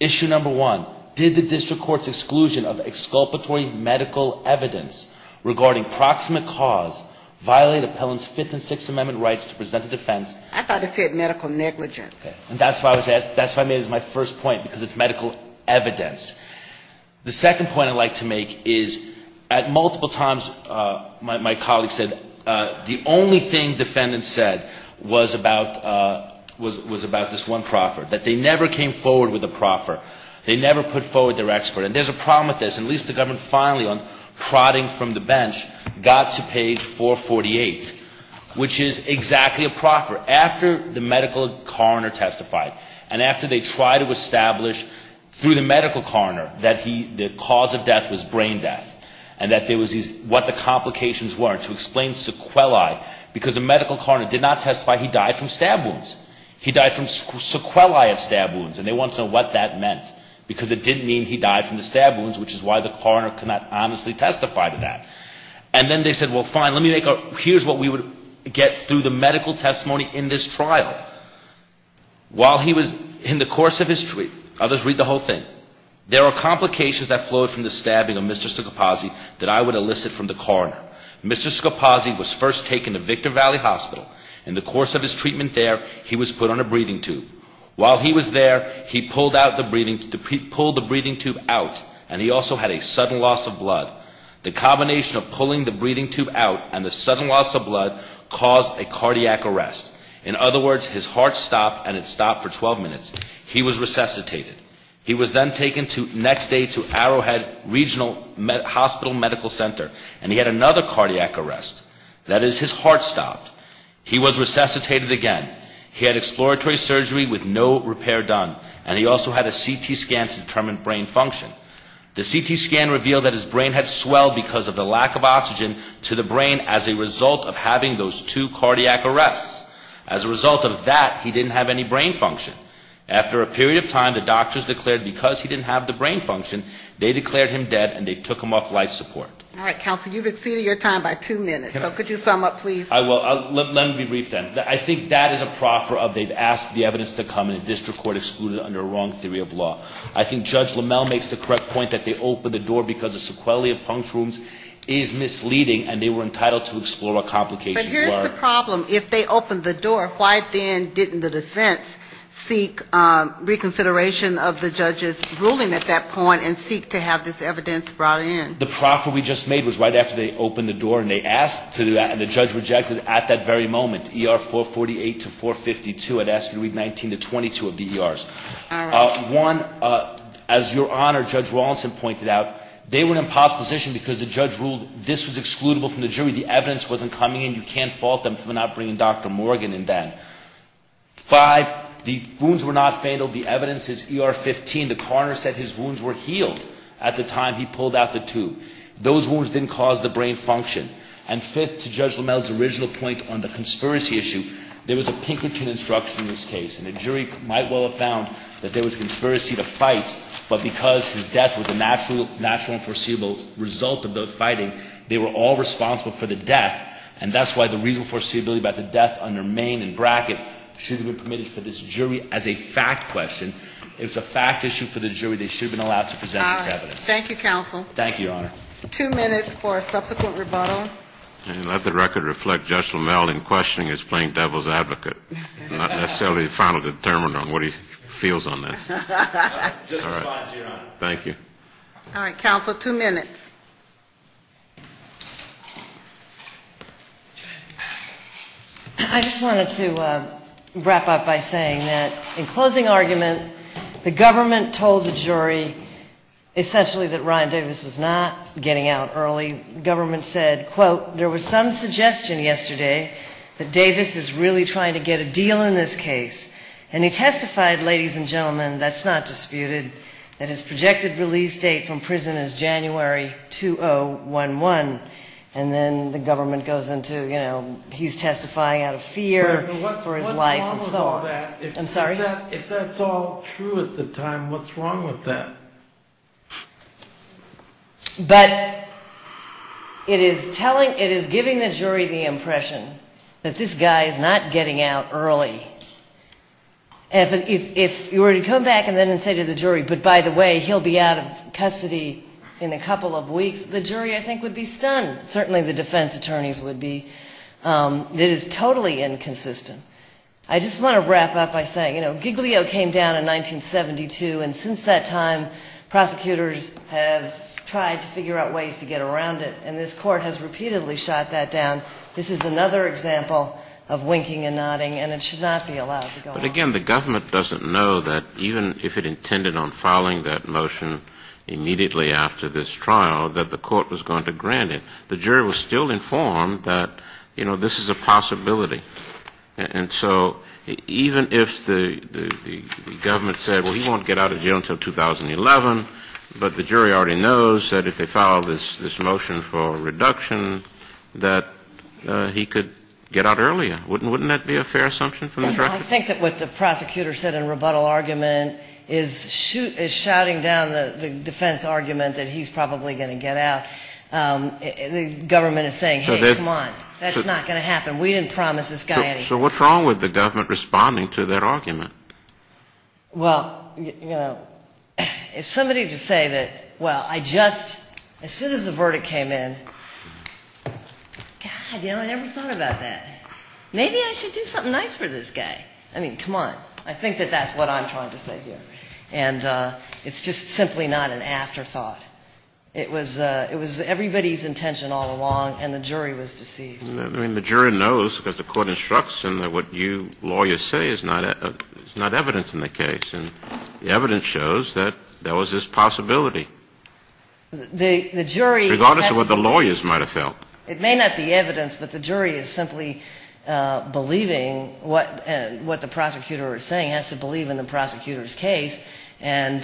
Issue number one. Did the district court's exclusion of exculpatory medical evidence regarding proximate cause violate appellant's Fifth and Sixth Amendment rights to present a defense? I thought it said medical negligence. Okay. That's why I made it as my first point, because it's medical evidence. The second point I'd like to make is at multiple times my colleagues said the only thing defendants said was about this one proffer, that they never came forward with a proffer. They never put forward their expert. And there's a problem with this. At least the government finally, on prodding from the bench, got to page 448, which is exactly a proffer. After the medical coroner testified and after they tried to establish through the medical coroner that the cause of death was brain death and that there was what the complications were to explain sequelae, because the medical coroner did not testify he died from stab wounds. He died from sequelae of stab wounds, and they want to know what that meant, because it didn't mean he died from the stab wounds, which is why the coroner could not honestly testify to that. And then they said, well, fine, let me make a, here's what we would get through the medical testimony in this trial. While he was, in the course of his treatment, I'll just read the whole thing. There are complications that flowed from the stabbing of Mr. Scopazzi that I would elicit from the coroner. Mr. Scopazzi was first taken to Victor Valley Hospital. In the course of his treatment there, he was put on a breathing tube. While he was there, he pulled the breathing tube out, and he also had a sudden loss of blood. The combination of pulling the breathing tube out and the sudden loss of blood caused a cardiac arrest. In other words, his heart stopped and it stopped for 12 minutes. He was resuscitated. He was then taken next day to Arrowhead Regional Hospital Medical Center, and he had another cardiac arrest. That is, his heart stopped. He was resuscitated again. He had exploratory surgery with no repair done, and he also had a CT scan to determine brain function. The CT scan revealed that his brain had swelled because of the lack of oxygen to the brain as a result of having those two cardiac arrests. As a result of that, he didn't have any brain function. After a period of time, the doctors declared, because he didn't have the brain function, they declared him dead and they took him off life support. Counsel, you've exceeded your time by two minutes. Could you sum up, please? Let me rephrase that. I think that is a proper update. Ask the evidence to come in a district court excluded under a wrong theory of law. I think Judge Lamell makes the correct point that they opened the door because the sequelae of puncture wounds is misleading and they were entitled to explore a complication. But here's the problem. If they opened the door, why then didn't the defense seek reconsideration of the judge's ruling at that point and seek to have this evidence brought in? The proffer we just made was right after they opened the door and they asked to do that and the judge rejected it at that very moment. ER 448 to 452. I'd ask you to read 19 to 22 of the ERs. All right. One, as Your Honor, Judge Rawlinson pointed out, they were in opposition because the judge ruled this was excludable from the jury. The evidence wasn't coming in. You can't fault them for not bringing Dr. Morgan in then. Five, the wounds were not fatal. The evidence is ER 15. The coroner said his wounds were healed at the time he pulled out the tube. Those wounds didn't cause the brain function. And fifth, to Judge Lamell's original point on the conspiracy issue, there was a Pinkerton instruction in this case and the jury might well have found that there was conspiracy to fight, but because his death was a natural and foreseeable result of those fighting, they were all responsible for the death and that's why the reason for the death under Maine in bracket should have been committed to this jury as a fact question. It was a fact issue for the jury. They should have been allowed to present the evidence. Thank you, Counsel. Thank you, Your Honor. Two minutes for a subsequent rebuttal. And let the record reflect Judge Lamell in questioning his playing devil's advocate and not necessarily a final determiner on what he feels on that. All right. Thank you. All right, Counsel, two minutes. I just wanted to wrap up by saying that in closing argument, the government told the jury essentially that Ryan Davis was not getting out early. The government said, quote, there was some suggestion yesterday that Davis was really trying to get a deal in this case. And he testified, ladies and gentlemen, that's not disputed, and his projected release date from prison is January 2011. And then the government goes into, you know, he's testifying out of fear for his life. What's wrong with all that? I'm sorry? If that's all true at the time, what's wrong with that? But it is giving the jury the impression that this guy is not getting out early. If you were to come back and then say to the jury, but by the way, he'll be out of custody in a couple of weeks, the jury, I think, would be stunned. Certainly the defense attorneys would be. It is totally inconsistent. I just want to wrap up by saying, you know, Giglio came down in 1972, and since that time, prosecutors have tried to figure out ways to get around it, and this court has repeatedly shot that down. This is another example of winking and nodding, and it should not be allowed to go on. But again, the government doesn't know that even if it intended on filing that motion immediately after this trial, that the court was going to grant it. The jury was still informed that, you know, this is a possibility. And so even if the government said, well, he won't get out of jail until 2011, but the jury already knows that if they file this motion for reduction, that he could get out earlier. Wouldn't that be a fair assumption from the director? I think that what the prosecutor said in rebuttal argument is shouting down the defense argument that he's probably going to get out. The government is saying, hey, come on, that's not going to happen. We didn't promise this guy anything. So what's wrong with the government responding to that argument? Well, you know, if somebody were to say that, well, I just, as soon as the verdict came in, God, you know, I never thought about that. Maybe I should do something nice for this guy. I mean, come on. I think that that's what I'm trying to say here. And it's just simply not an afterthought. It was everybody's intention all along, and the jury was deceived. I mean, the jury knows what the court instructs, and what you lawyers say is not evidence in the case. And the evidence shows that there was this possibility. The jury – Regardless of what the lawyers might have felt. It may not be evidence, but the jury is simply believing what the prosecutor is saying, has to believe in the prosecutor's case. And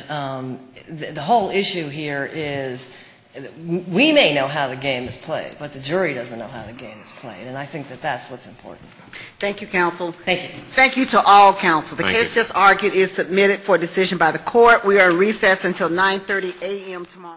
the whole issue here is we may know how the game is played, but the jury doesn't know how the game is played. And I think that that's what's important. Thank you, counsel. Thank you. Thank you to all counsel. The case just argued is submitted for decision by the court. We are recessed until 9.30 a.m. tomorrow.